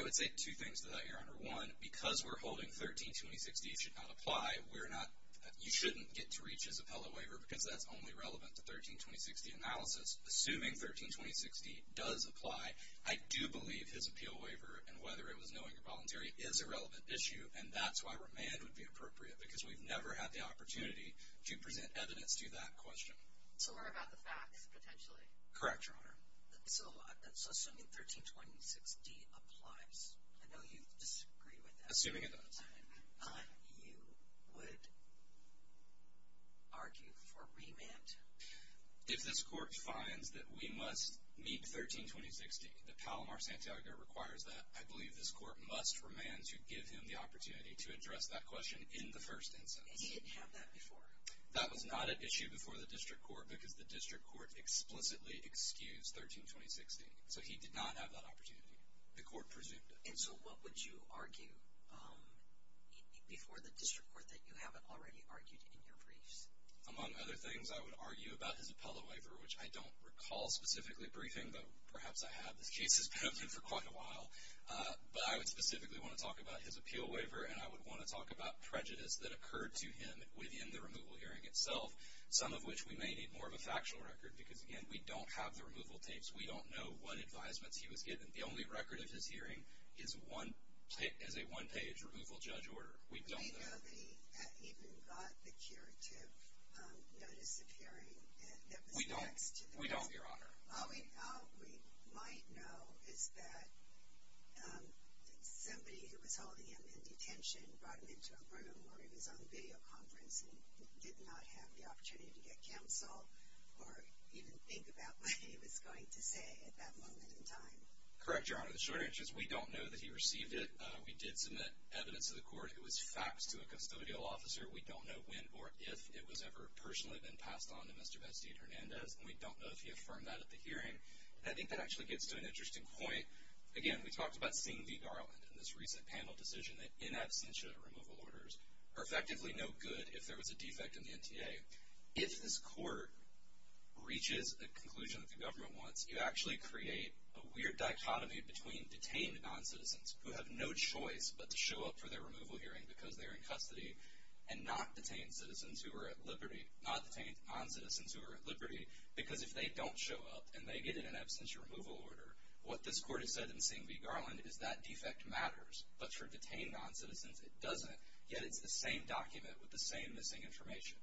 2. I would say two things to that, Your Honor. One, because we're holding 13-2060 should not apply, you shouldn't get to reach his appellate waiver because that's only relevant to 13-2060 analysis. Assuming 13-2060 does apply, I do believe his appeal waiver, and whether it was knowing or voluntary, is a relevant issue. And that's why remand would be appropriate, because we've never had the opportunity to present evidence to that question. So we're about the facts, potentially? Correct, Your Honor. So assuming 13-2060 applies, I know you disagree with that. Assuming it does. You would argue for remand? If this court finds that we must meet 13-2060, that Palomar-Santiago requires that, I believe this court must remand to give him the opportunity to address that question in the first instance. And he didn't have that before? That was not an issue before the district court because the district court explicitly excused 13-2060. So he did not have that opportunity. The court presumed it. And so what would you argue before the district court that you haven't already argued in your briefs? Among other things, I would argue about his appellate waiver, which I don't recall specifically briefing, but perhaps I have. This case has been open for quite a while. But I would specifically want to talk about his appeal waiver, and I would want to talk about prejudice that occurred to him within the removal hearing itself, some of which we may need more of a factual record because, again, we don't have the removal tapes. We don't know what advisements he was given. The only record of his hearing is a one-page removal judge order. We don't know. We know that he even got the curative notice of hearing. We don't, Your Honor. All we might know is that somebody who was holding him in detention brought him into a room where he was on a videoconference and did not have the opportunity to get counsel or even think about what he was going to say at that moment in time. Correct, Your Honor. The short answer is we don't know that he received it. We did submit evidence to the court. It was faxed to a custodial officer. We don't know when or if it was ever personally been passed on to Mr. Bastide-Hernandez, and we don't know if he affirmed that at the hearing. I think that actually gets to an interesting point. Again, we talked about seeing the garland in this recent panel decision that in absentia removal orders are effectively no good if there was a defect in the NTA. If this court reaches a conclusion that the government wants, you actually create a weird dichotomy between detained noncitizens who have no choice and not detained noncitizens who are at liberty because if they don't show up and they get in an absentia removal order, what this court has said in seeing the garland is that defect matters, but for detained noncitizens it doesn't, yet it's the same document with the same missing information.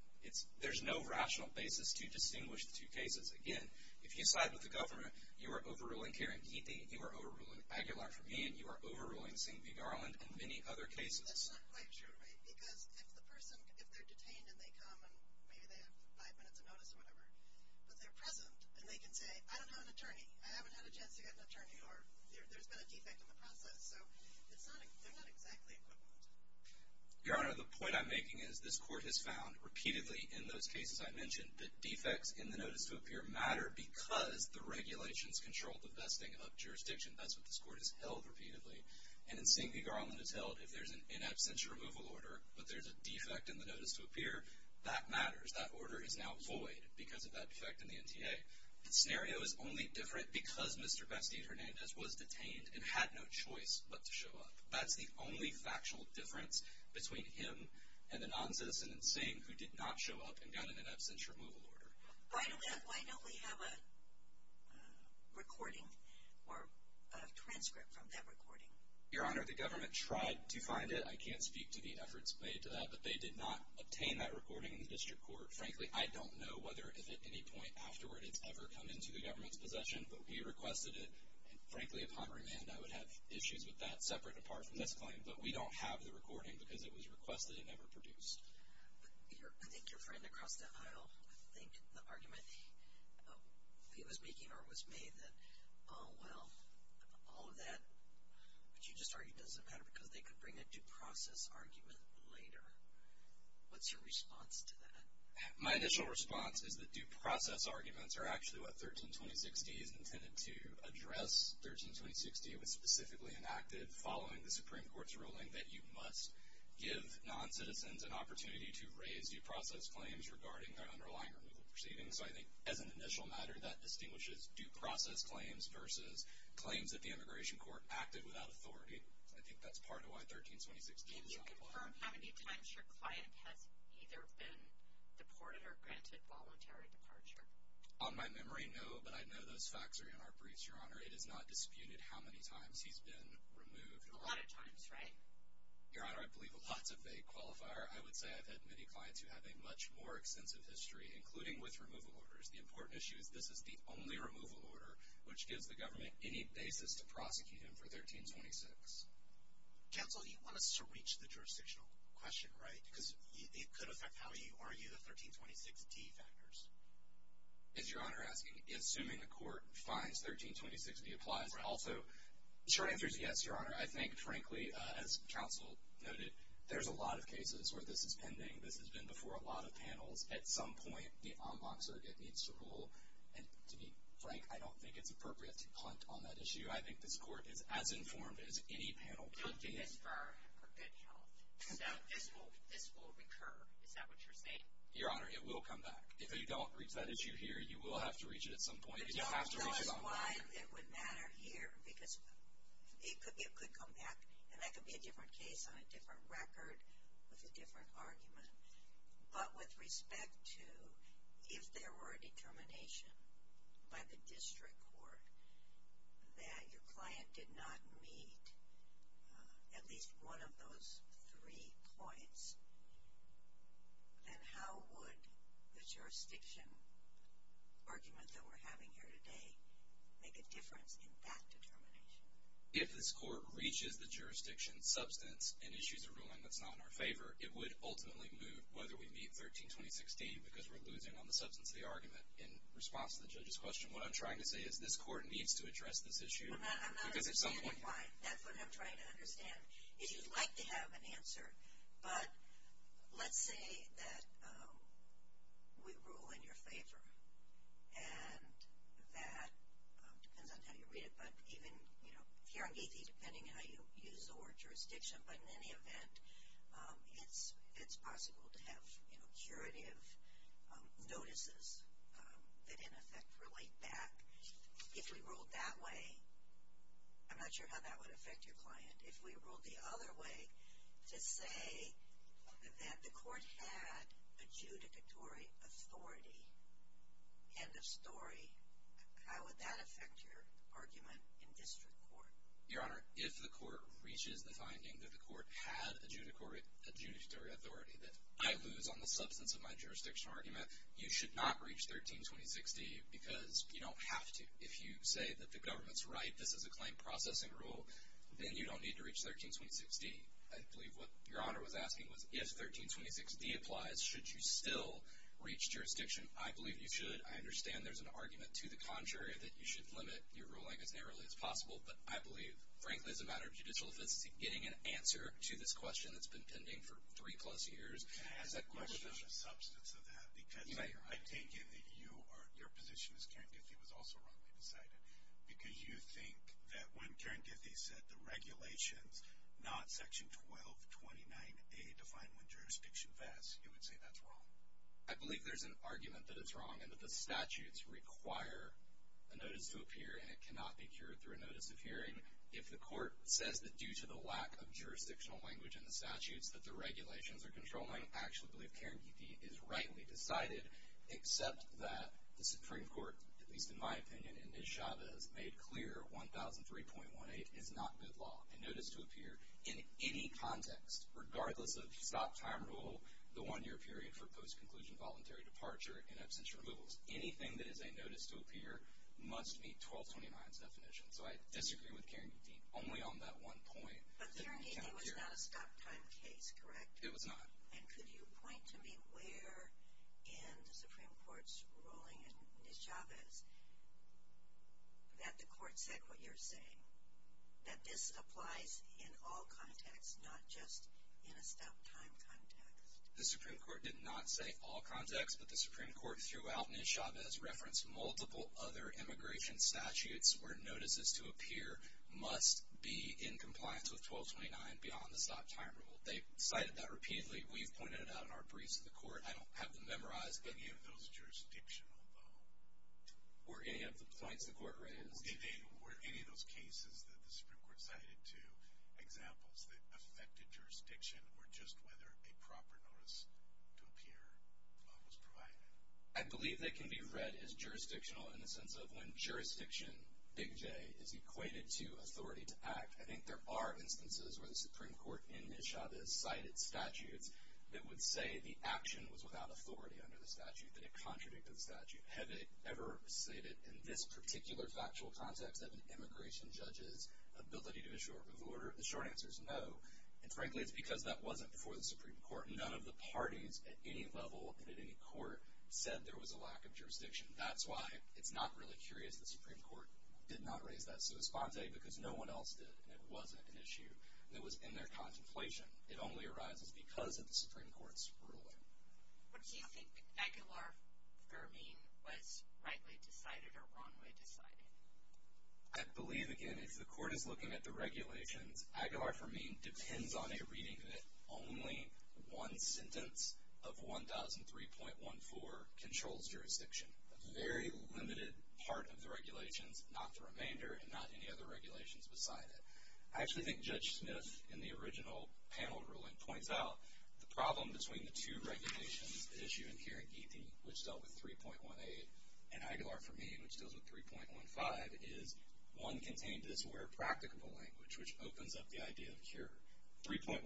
There's no rational basis to distinguish the two cases. Again, if you side with the government, you are overruling Karen Keithy, you are overruling Aguilar for me, and you are overruling seeing the garland and many other cases. That's not quite true, right? Because if the person, if they're detained and they come and maybe they have five minutes of notice or whatever, but they're present and they can say, I don't have an attorney, I haven't had a chance to get an attorney, or there's been a defect in the process. So they're not exactly equivalent. Your Honor, the point I'm making is this court has found repeatedly in those cases I mentioned that defects in the notice to appear matter because the regulations control the vesting of jurisdiction. That's what this court has held repeatedly. And in seeing the garland it's held if there's an in absentia removal order, but there's a defect in the notice to appear, that matters. That order is now void because of that defect in the NTA. The scenario is only different because Mr. Bastian Hernandez was detained and had no choice but to show up. That's the only factual difference between him and the noncitizen in Sing who did not show up and got an in absentia removal order. Why don't we have a recording or a transcript from that recording? Your Honor, the government tried to find it. I can't speak to the efforts made to that, but they did not obtain that recording in the district court. Frankly, I don't know whether if at any point afterward it's ever come into the government's possession, but we requested it, and frankly upon remand I would have issues with that, separate and apart from this claim, but we don't have the recording because it was requested and never produced. I think your friend across the aisle, I think the argument he was making or was made that, oh well, all of that, but you just argued it doesn't matter because they could bring a due process argument later. What's your response to that? My initial response is that due process arguments are actually what 132060 is intended to address. 132060 was specifically enacted following the Supreme Court's ruling that you must give non-citizens an opportunity to raise due process claims regarding their underlying removal proceedings, so I think as an initial matter that distinguishes due process claims versus claims that the Immigration Court acted without authority. I think that's part of why 132060 is not required. Can you confirm how many times your client has either been deported or granted voluntary departure? On my memory, no, but I know those facts are in our briefs, Your Honor. It is not disputed how many times he's been removed. A lot of times, right? Your Honor, I believe lots of vague qualifier. I would say I've had many clients who have a much more extensive history, including with removal orders. The important issue is this is the only removal order which gives the government any basis to prosecute him for 132060. Counsel, you want us to reach the jurisdictional question, right? Because it could affect how you argue the 132060 factors. As Your Honor is asking, assuming the court finds 132060 applies, also, Sure answer is yes, Your Honor. I think, frankly, as counsel noted, there's a lot of cases where this is pending. This has been before a lot of panels. At some point, the en banc surrogate needs to rule, and to be frank, I don't think it's appropriate to punt on that issue. I think this court is as informed as any panel could be. Don't do this for good health. So this will recur. Is that what you're saying? Your Honor, it will come back. If you don't reach that issue here, you will have to reach it at some point. It would matter here because it could come back, and that could be a different case on a different record with a different argument. But with respect to if there were a determination by the district court that your client did not meet at least one of those three points, then how would the jurisdiction argument that we're having here today make a difference in that determination? If this court reaches the jurisdiction substance and issues a ruling that's not in our favor, it would ultimately move whether we meet 132060 because we're losing on the substance of the argument in response to the judge's question. What I'm trying to say is this court needs to address this issue. I'm not understanding why. That's what I'm trying to understand. If you'd like to have an answer, but let's say that we rule in your favor, and that depends on how you read it, but even here in Geethi, depending on how you use the word jurisdiction, but in any event, it's possible to have curative notices that, in effect, relate back. If we ruled that way, I'm not sure how that would affect your client. If we ruled the other way, to say that the court had adjudicatory authority, end of story, how would that affect your argument in district court? Your Honor, if the court reaches the finding that the court had adjudicatory authority, that I lose on the substance of my jurisdictional argument, you should not reach 132060 because you don't have to. If you say that the government's right, this is a claim processing rule, then you don't need to reach 132060. I believe what Your Honor was asking was if 132060 applies, should you still reach jurisdiction? I believe you should. I understand there's an argument to the contrary, that you should limit your ruling as narrowly as possible, but I believe, frankly, as a matter of judicial efficiency, getting an answer to this question that's been pending for three-plus years. I have a question on the substance of that because I take it that your position as Karen Geethi was also wrongly decided because you think that when Karen Geethi said the regulations, not Section 1229A, define when jurisdiction vests, you would say that's wrong. I believe there's an argument that it's wrong and that the statutes require a notice to appear and it cannot be cured through a notice of hearing. If the court says that due to the lack of jurisdictional language in the statutes that the regulations are controlling, I actually believe Karen Geethi is rightly decided, except that the Supreme Court, at least in my opinion and Ms. Chavez made clear, 1003.18 is not good law. A notice to appear in any context, regardless of stop-time rule, the one-year period for post-conclusion voluntary departure in absence of removals, anything that is a notice to appear must meet 1229's definition. So I disagree with Karen Geethi only on that one point. But Karen Geethi was not a stop-time case, correct? It was not. And could you point to me where in the Supreme Court's ruling in Ms. Chavez that the court said what you're saying, that this applies in all contexts, not just in a stop-time context? The Supreme Court did not say all contexts, but the Supreme Court throughout Ms. Chavez referenced multiple other immigration statutes where notices to appear must be in compliance with 1229 beyond the stop-time rule. They cited that repeatedly. We've pointed it out in our briefs to the court. I don't have them memorized. Were any of those jurisdictional, though? Were any of the points the court raised? Were any of those cases that the Supreme Court cited to examples that affected jurisdiction or just whether a proper notice to appear was provided? I believe they can be read as jurisdictional in the sense of when jurisdiction, big J, is equated to authority to act. I think there are instances where the Supreme Court in Ms. Chavez cited statutes that would say the action was without authority under the statute, that it contradicted the statute. Have they ever stated in this particular factual context of an immigration judge's ability to assure? The short answer is no. And frankly, it's because that wasn't before the Supreme Court. None of the parties at any level and at any court said there was a lack of jurisdiction. That's why it's not really curious the Supreme Court did not raise that. It's a response, A, because no one else did, and it wasn't an issue. It was in their contemplation. It only arises because of the Supreme Court's ruling. Do you think Aguilar-Firmin was rightly decided or wrongly decided? I believe, again, if the court is looking at the regulations, Aguilar-Firmin depends on a reading that only one sentence of 1003.14 controls jurisdiction. A very limited part of the regulations, not the remainder, and not any other regulations beside it. I actually think Judge Smith, in the original panel ruling, points out the problem between the two regulations, the issue here in Geethi, which dealt with 3.18, and Aguilar-Firmin, which deals with 3.15, is one contained this where practicable language, which opens up the idea of cure. 3.15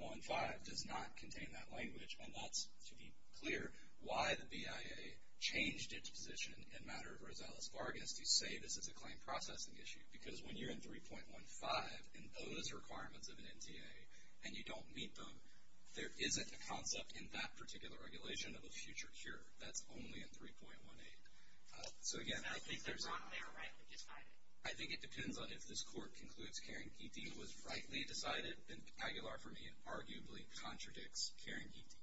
does not contain that language, and that's, to be clear, why the BIA changed its position in matter of Rosales-Vargas to say this is a claim processing issue, because when you're in 3.15 and those requirements of an NTA and you don't meet them, there isn't a concept in that particular regulation of a future cure. That's only in 3.18. So, again, I think there's a... It's not that they're wrong, they're rightly decided. I think it depends on if this court concludes Karen Geethi was rightly decided, and Aguilar-Firmin arguably contradicts Karen Geethi.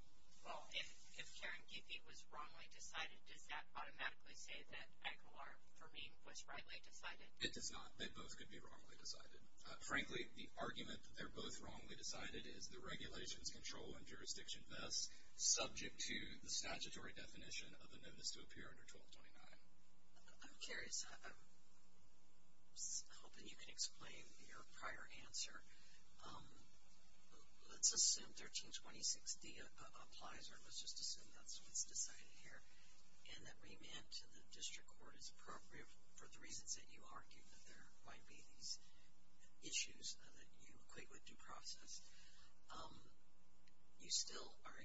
If Karen Geethi was wrongly decided, does that automatically say that Aguilar-Firmin was rightly decided? It does not. They both could be wrongly decided. Frankly, the argument that they're both wrongly decided is the regulations, control, and jurisdiction thus subject to the statutory definition of a notice to appear under 1229. I'm curious. I was hoping you could explain your prior answer. Let's assume 1326D applies, or let's just assume that's what's decided here, and that remand to the district court is appropriate for the reasons that you argue, that there might be these issues that you equate with due process. You still are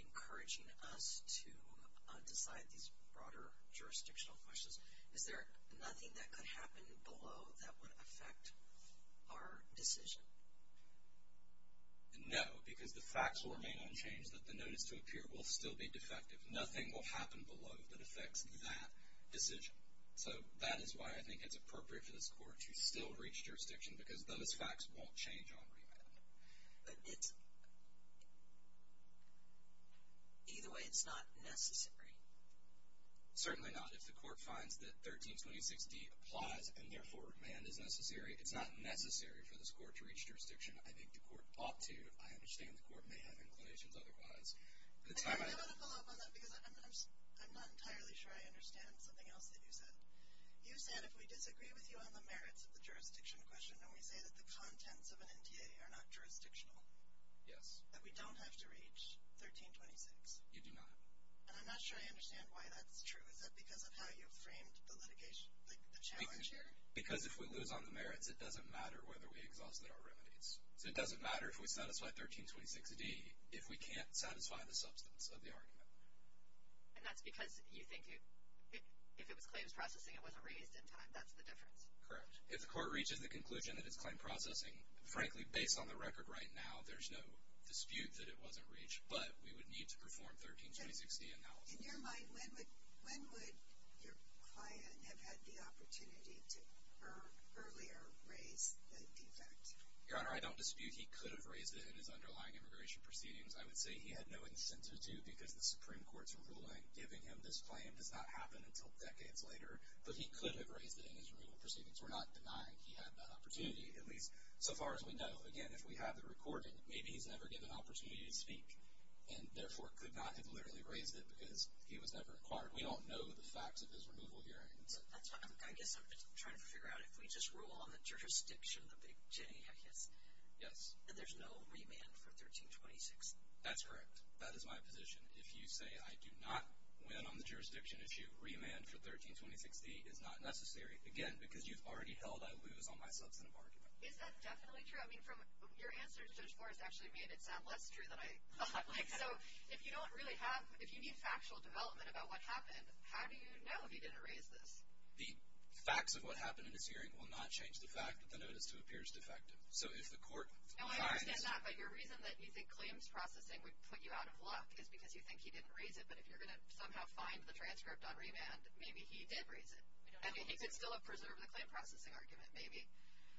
encouraging us to decide these broader jurisdictional questions. Is there nothing that could happen below that would affect our decision? No, because the facts will remain unchanged that the notice to appear will still be defective. Nothing will happen below that affects that decision. So that is why I think it's appropriate for this court to still reach jurisdiction, because those facts won't change on remand. Either way, it's not necessary. Certainly not. If the court finds that 1326D applies and, therefore, remand is necessary, it's not necessary for this court to reach jurisdiction. I think the court ought to. I understand the court may have inclinations otherwise. I want to follow up on that because I'm not entirely sure I understand something else that you said. You said if we disagree with you on the merits of the jurisdiction question and we say that the contents of an NTA are not jurisdictional, that we don't have to reach 1326. You do not. And I'm not sure I understand why that's true. Is that because of how you framed the litigation, like the challenge here? Because if we lose on the merits, it doesn't matter whether we exhausted our remand. So it doesn't matter if we satisfy 1326D if we can't satisfy the substance of the argument. And that's because you think if it was claims processing, it wasn't raised in time. That's the difference. Correct. If the court reaches the conclusion that it's claim processing, frankly, based on the record right now, there's no dispute that it wasn't reached. But we would need to perform 1326D analysis. In your mind, when would your client have had the opportunity to earlier raise the defect? Your Honor, I don't dispute he could have raised it in his underlying immigration proceedings. I would say he had no incentive to because the Supreme Court's ruling giving him this claim does not happen until decades later. But he could have raised it in his removal proceedings. We're not denying he had that opportunity, at least so far as we know. Again, if we have the recording, maybe he's never given an opportunity to speak and therefore could not have literally raised it because he was never inquired. We don't know the facts of his removal hearings. I guess I'm just trying to figure out if we just rule on the jurisdiction, the big J, I guess. Yes. There's no remand for 1326. That's correct. That is my position. If you say I do not win on the jurisdiction issue, remand for 1326D is not necessary, again, because you've already held I lose on my substantive argument. Is that definitely true? I mean, your answer to Judge Forrest actually made it sound less true than I thought. So if you don't really have, if you need factual development about what happened, how do you know if he didn't raise this? The facts of what happened in his hearing will not change the fact that the notice 2 appears defective. So if the court finds No, I understand that. But your reason that you think claims processing would put you out of luck is because you think he didn't raise it. But if you're going to somehow find the transcript on remand, maybe he did raise it. And he could still have preserved the claim processing argument, maybe.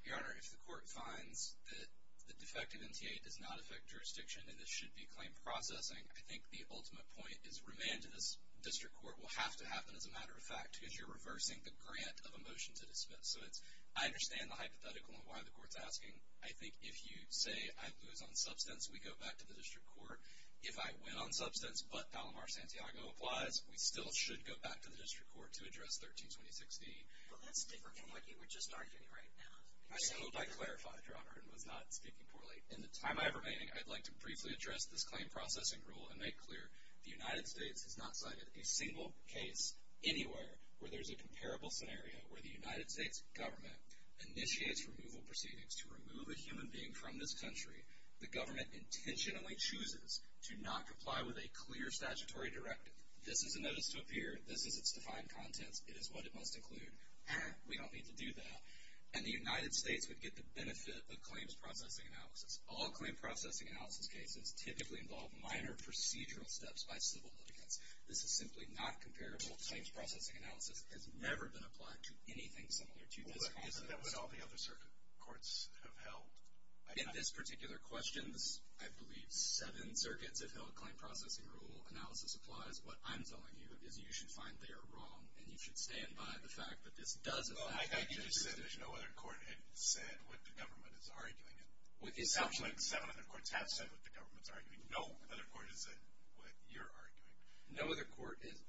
Your Honor, if the court finds that the defective NTA does not affect jurisdiction and this should be claim processing, I think the ultimate point is remand to this district court will have to happen as a matter of fact because you're reversing the grant of a motion to dismiss. So it's, I understand the hypothetical and why the court's asking. I think if you say I lose on substance, we go back to the district court. If I win on substance but Palomar-Santiago applies, we still should go back to the district court to address 13-2016. Well, that's different from what you were just arguing right now. I hope I clarified, Your Honor, and was not speaking poorly. In the time I have remaining, I'd like to briefly address this claim processing rule and make clear the United States has not cited a single case anywhere where there's a comparable scenario where the United States government initiates removal proceedings to remove a human being from this country. The government intentionally chooses to not comply with a clear statutory directive. This is a notice to appear. This is its defined contents. It is what it must include. We don't need to do that. And the United States would get the benefit of claims processing analysis. All claim processing analysis cases typically involve minor procedural steps by civil litigants. This is simply not comparable. Claims processing analysis has never been applied to anything similar to this process. Well, that's what all the other circuit courts have held. In this particular question, I believe seven circuits have held a claim processing rule. Analysis applies. What I'm telling you is you should find they are wrong, and you should stand by the fact that this does affect you. Well, I just said there's no other court that has said what the government is arguing. It sounds like 700 courts have said what the government is arguing. No other court has said what you're arguing. No other court has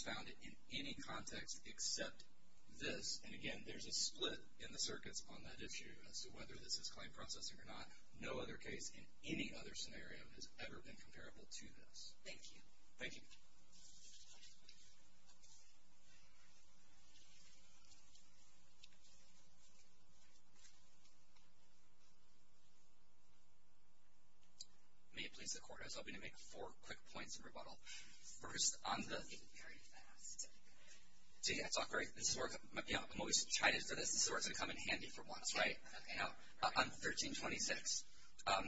found it in any context except this. And, again, there's a split in the circuits on that issue as to whether this is claim processing or not. No other case in any other scenario has ever been comparable to this. Thank you. Thank you. May it please the Court. I was hoping to make four quick points in rebuttal. First, on the- Very fast. See, that's all great. I'm always excited for this. This is where it's going to come in handy for once, right? Now, on 1326, I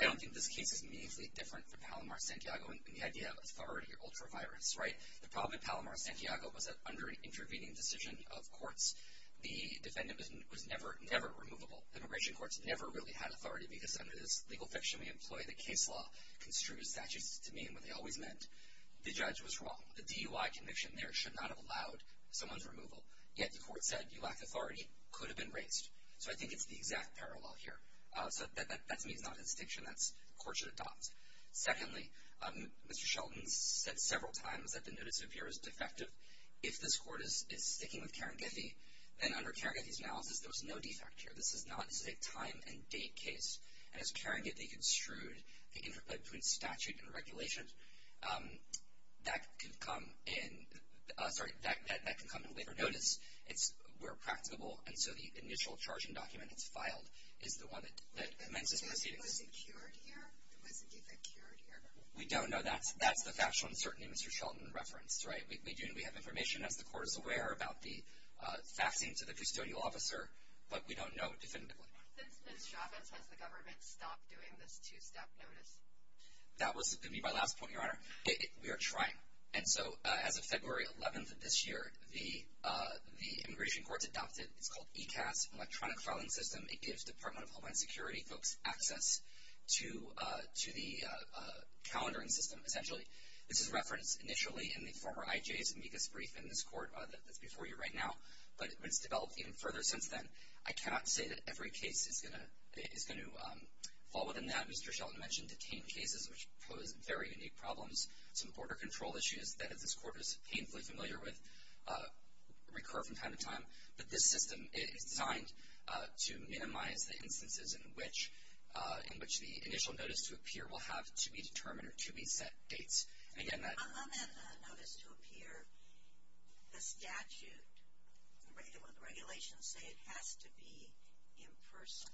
don't think this case is immediately different from Palomar-Santiago in the idea of authority or ultra-virus, right? The problem in Palomar-Santiago was that under an intervening decision of courts, the defendant was never, never removable. Immigration courts never really had authority because under this legal fiction we employ, the case law construed statutes to mean what they always meant. The judge was wrong. The DUI conviction there should not have allowed someone's removal. Yet the court said, you lack authority, could have been raised. So I think it's the exact parallel here. So that to me is not a distinction that the court should adopt. Secondly, Mr. Shelton said several times that the notice of appearance is defective. If this court is sticking with Karen Giffey, then under Karen Giffey's analysis, there was no defect here. This is not a time and date case. And as Karen Giffey construed the interplay between statute and regulation, that can come in later notice where practicable. And so the initial charging document that's filed is the one that commences proceedings. Was it cured here? Was the defect cured here? We don't know. That's the factual uncertainty Mr. Shelton referenced, right? We have information, as the court is aware, about the faxing to the custodial officer. But we don't know definitively. Since Ms. Chavez, has the government stopped doing this two-step notice? That was going to be my last point, Your Honor. We are trying. And so as of February 11th of this year, the immigration courts adopted, it's called ECAS, electronic filing system. It gives Department of Homeland Security folks access to the calendaring system, essentially. This is referenced initially in the former IJ's amicus brief in this court that's before you right now. But it's developed even further since then. I cannot say that every case is going to fall within that. Mr. Shelton mentioned detained cases, which pose very unique problems. Some border control issues that this court is painfully familiar with recur from time to time. But this system is designed to minimize the instances in which the initial notice to appear will have to be determined or to be set dates. On that notice to appear, the statute, the regulations say it has to be in person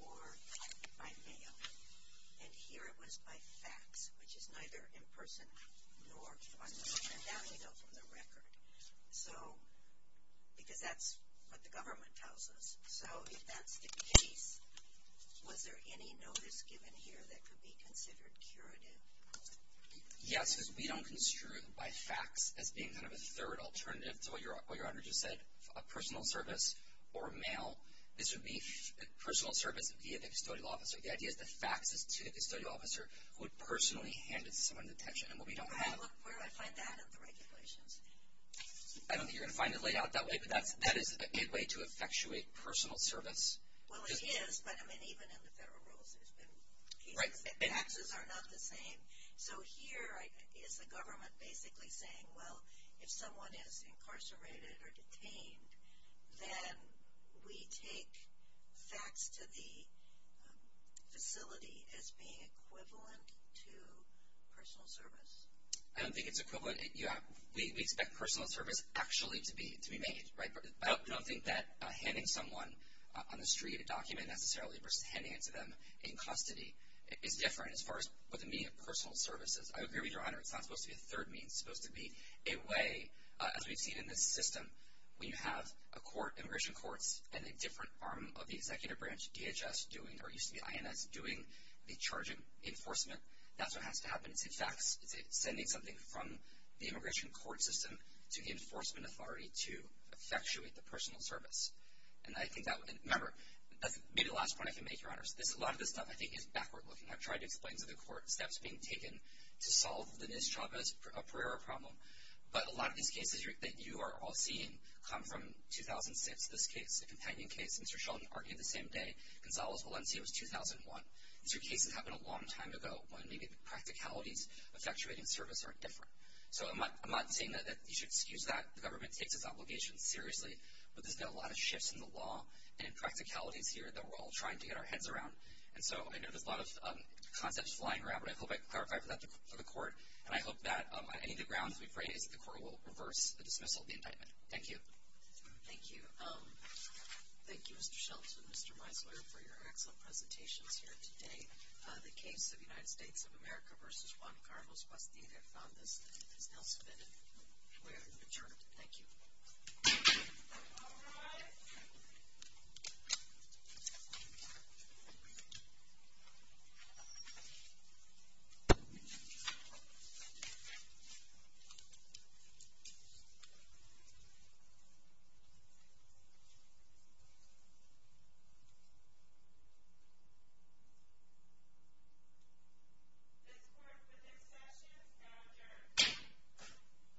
or by mail. And here it was by fax, which is neither in person nor by mail. And that would go from the record. So because that's what the government tells us. So if that's the case, was there any notice given here that could be considered curative? Yes, because we don't construe by fax as being kind of a third alternative to what Your Honor just said, a personal service or mail. This would be personal service via the custodial officer. The idea is the fax is to the custodial officer who would personally hand it to someone in detention. Where do I find that in the regulations? I don't think you're going to find it laid out that way. But that is a good way to effectuate personal service. Well, it is. But I mean, even in the federal rules, there's been cases that faxes are not the same. So here is the government basically saying, well, if someone is incarcerated or detained, then we take fax to the facility as being equivalent to personal service. I don't think it's equivalent. We expect personal service actually to be made. I don't think that handing someone on the street a document necessarily versus handing it to them in custody is different as far as the meaning of personal services. I agree with Your Honor. It's not supposed to be a third mean. It's supposed to be a way, as we've seen in this system, when you have a court, immigration courts, and a different arm of the executive branch, DHS, doing or used to be INS, doing the charging enforcement. That's what has to happen. It's a fax. It's sending something from the immigration court system to the enforcement authority to effectuate the personal service. And I think that would be the last point I can make, Your Honor. A lot of this stuff I think is backward looking. I've tried to explain to the court steps being taken to solve the Ms. Chavez Pereira problem, but a lot of these cases that you are all seeing come from 2006, this case, the companion case. Mr. Sheldon argued the same day. Gonzalo's Valencia was 2001. These are cases that happened a long time ago when maybe the practicalities of effectuating service are different. So I'm not saying that you should excuse that. The government takes its obligations seriously, but there's been a lot of shifts in the law and in practicalities here that we're all trying to get our heads around. And so I know there's a lot of concepts flying around, but I hope I can clarify that for the court. And I hope that on any of the grounds we've raised, the court will reverse the dismissal of the indictment. Thank you. Thank you. Thank you, Mr. Sheldon and Mr. Meisler, for your excellent presentations here today. The case of United States of America v. Juan Carlos Bastida, if not listed, is now submitted. We are adjourned. Thank you. All rise. This court for this session is now adjourned.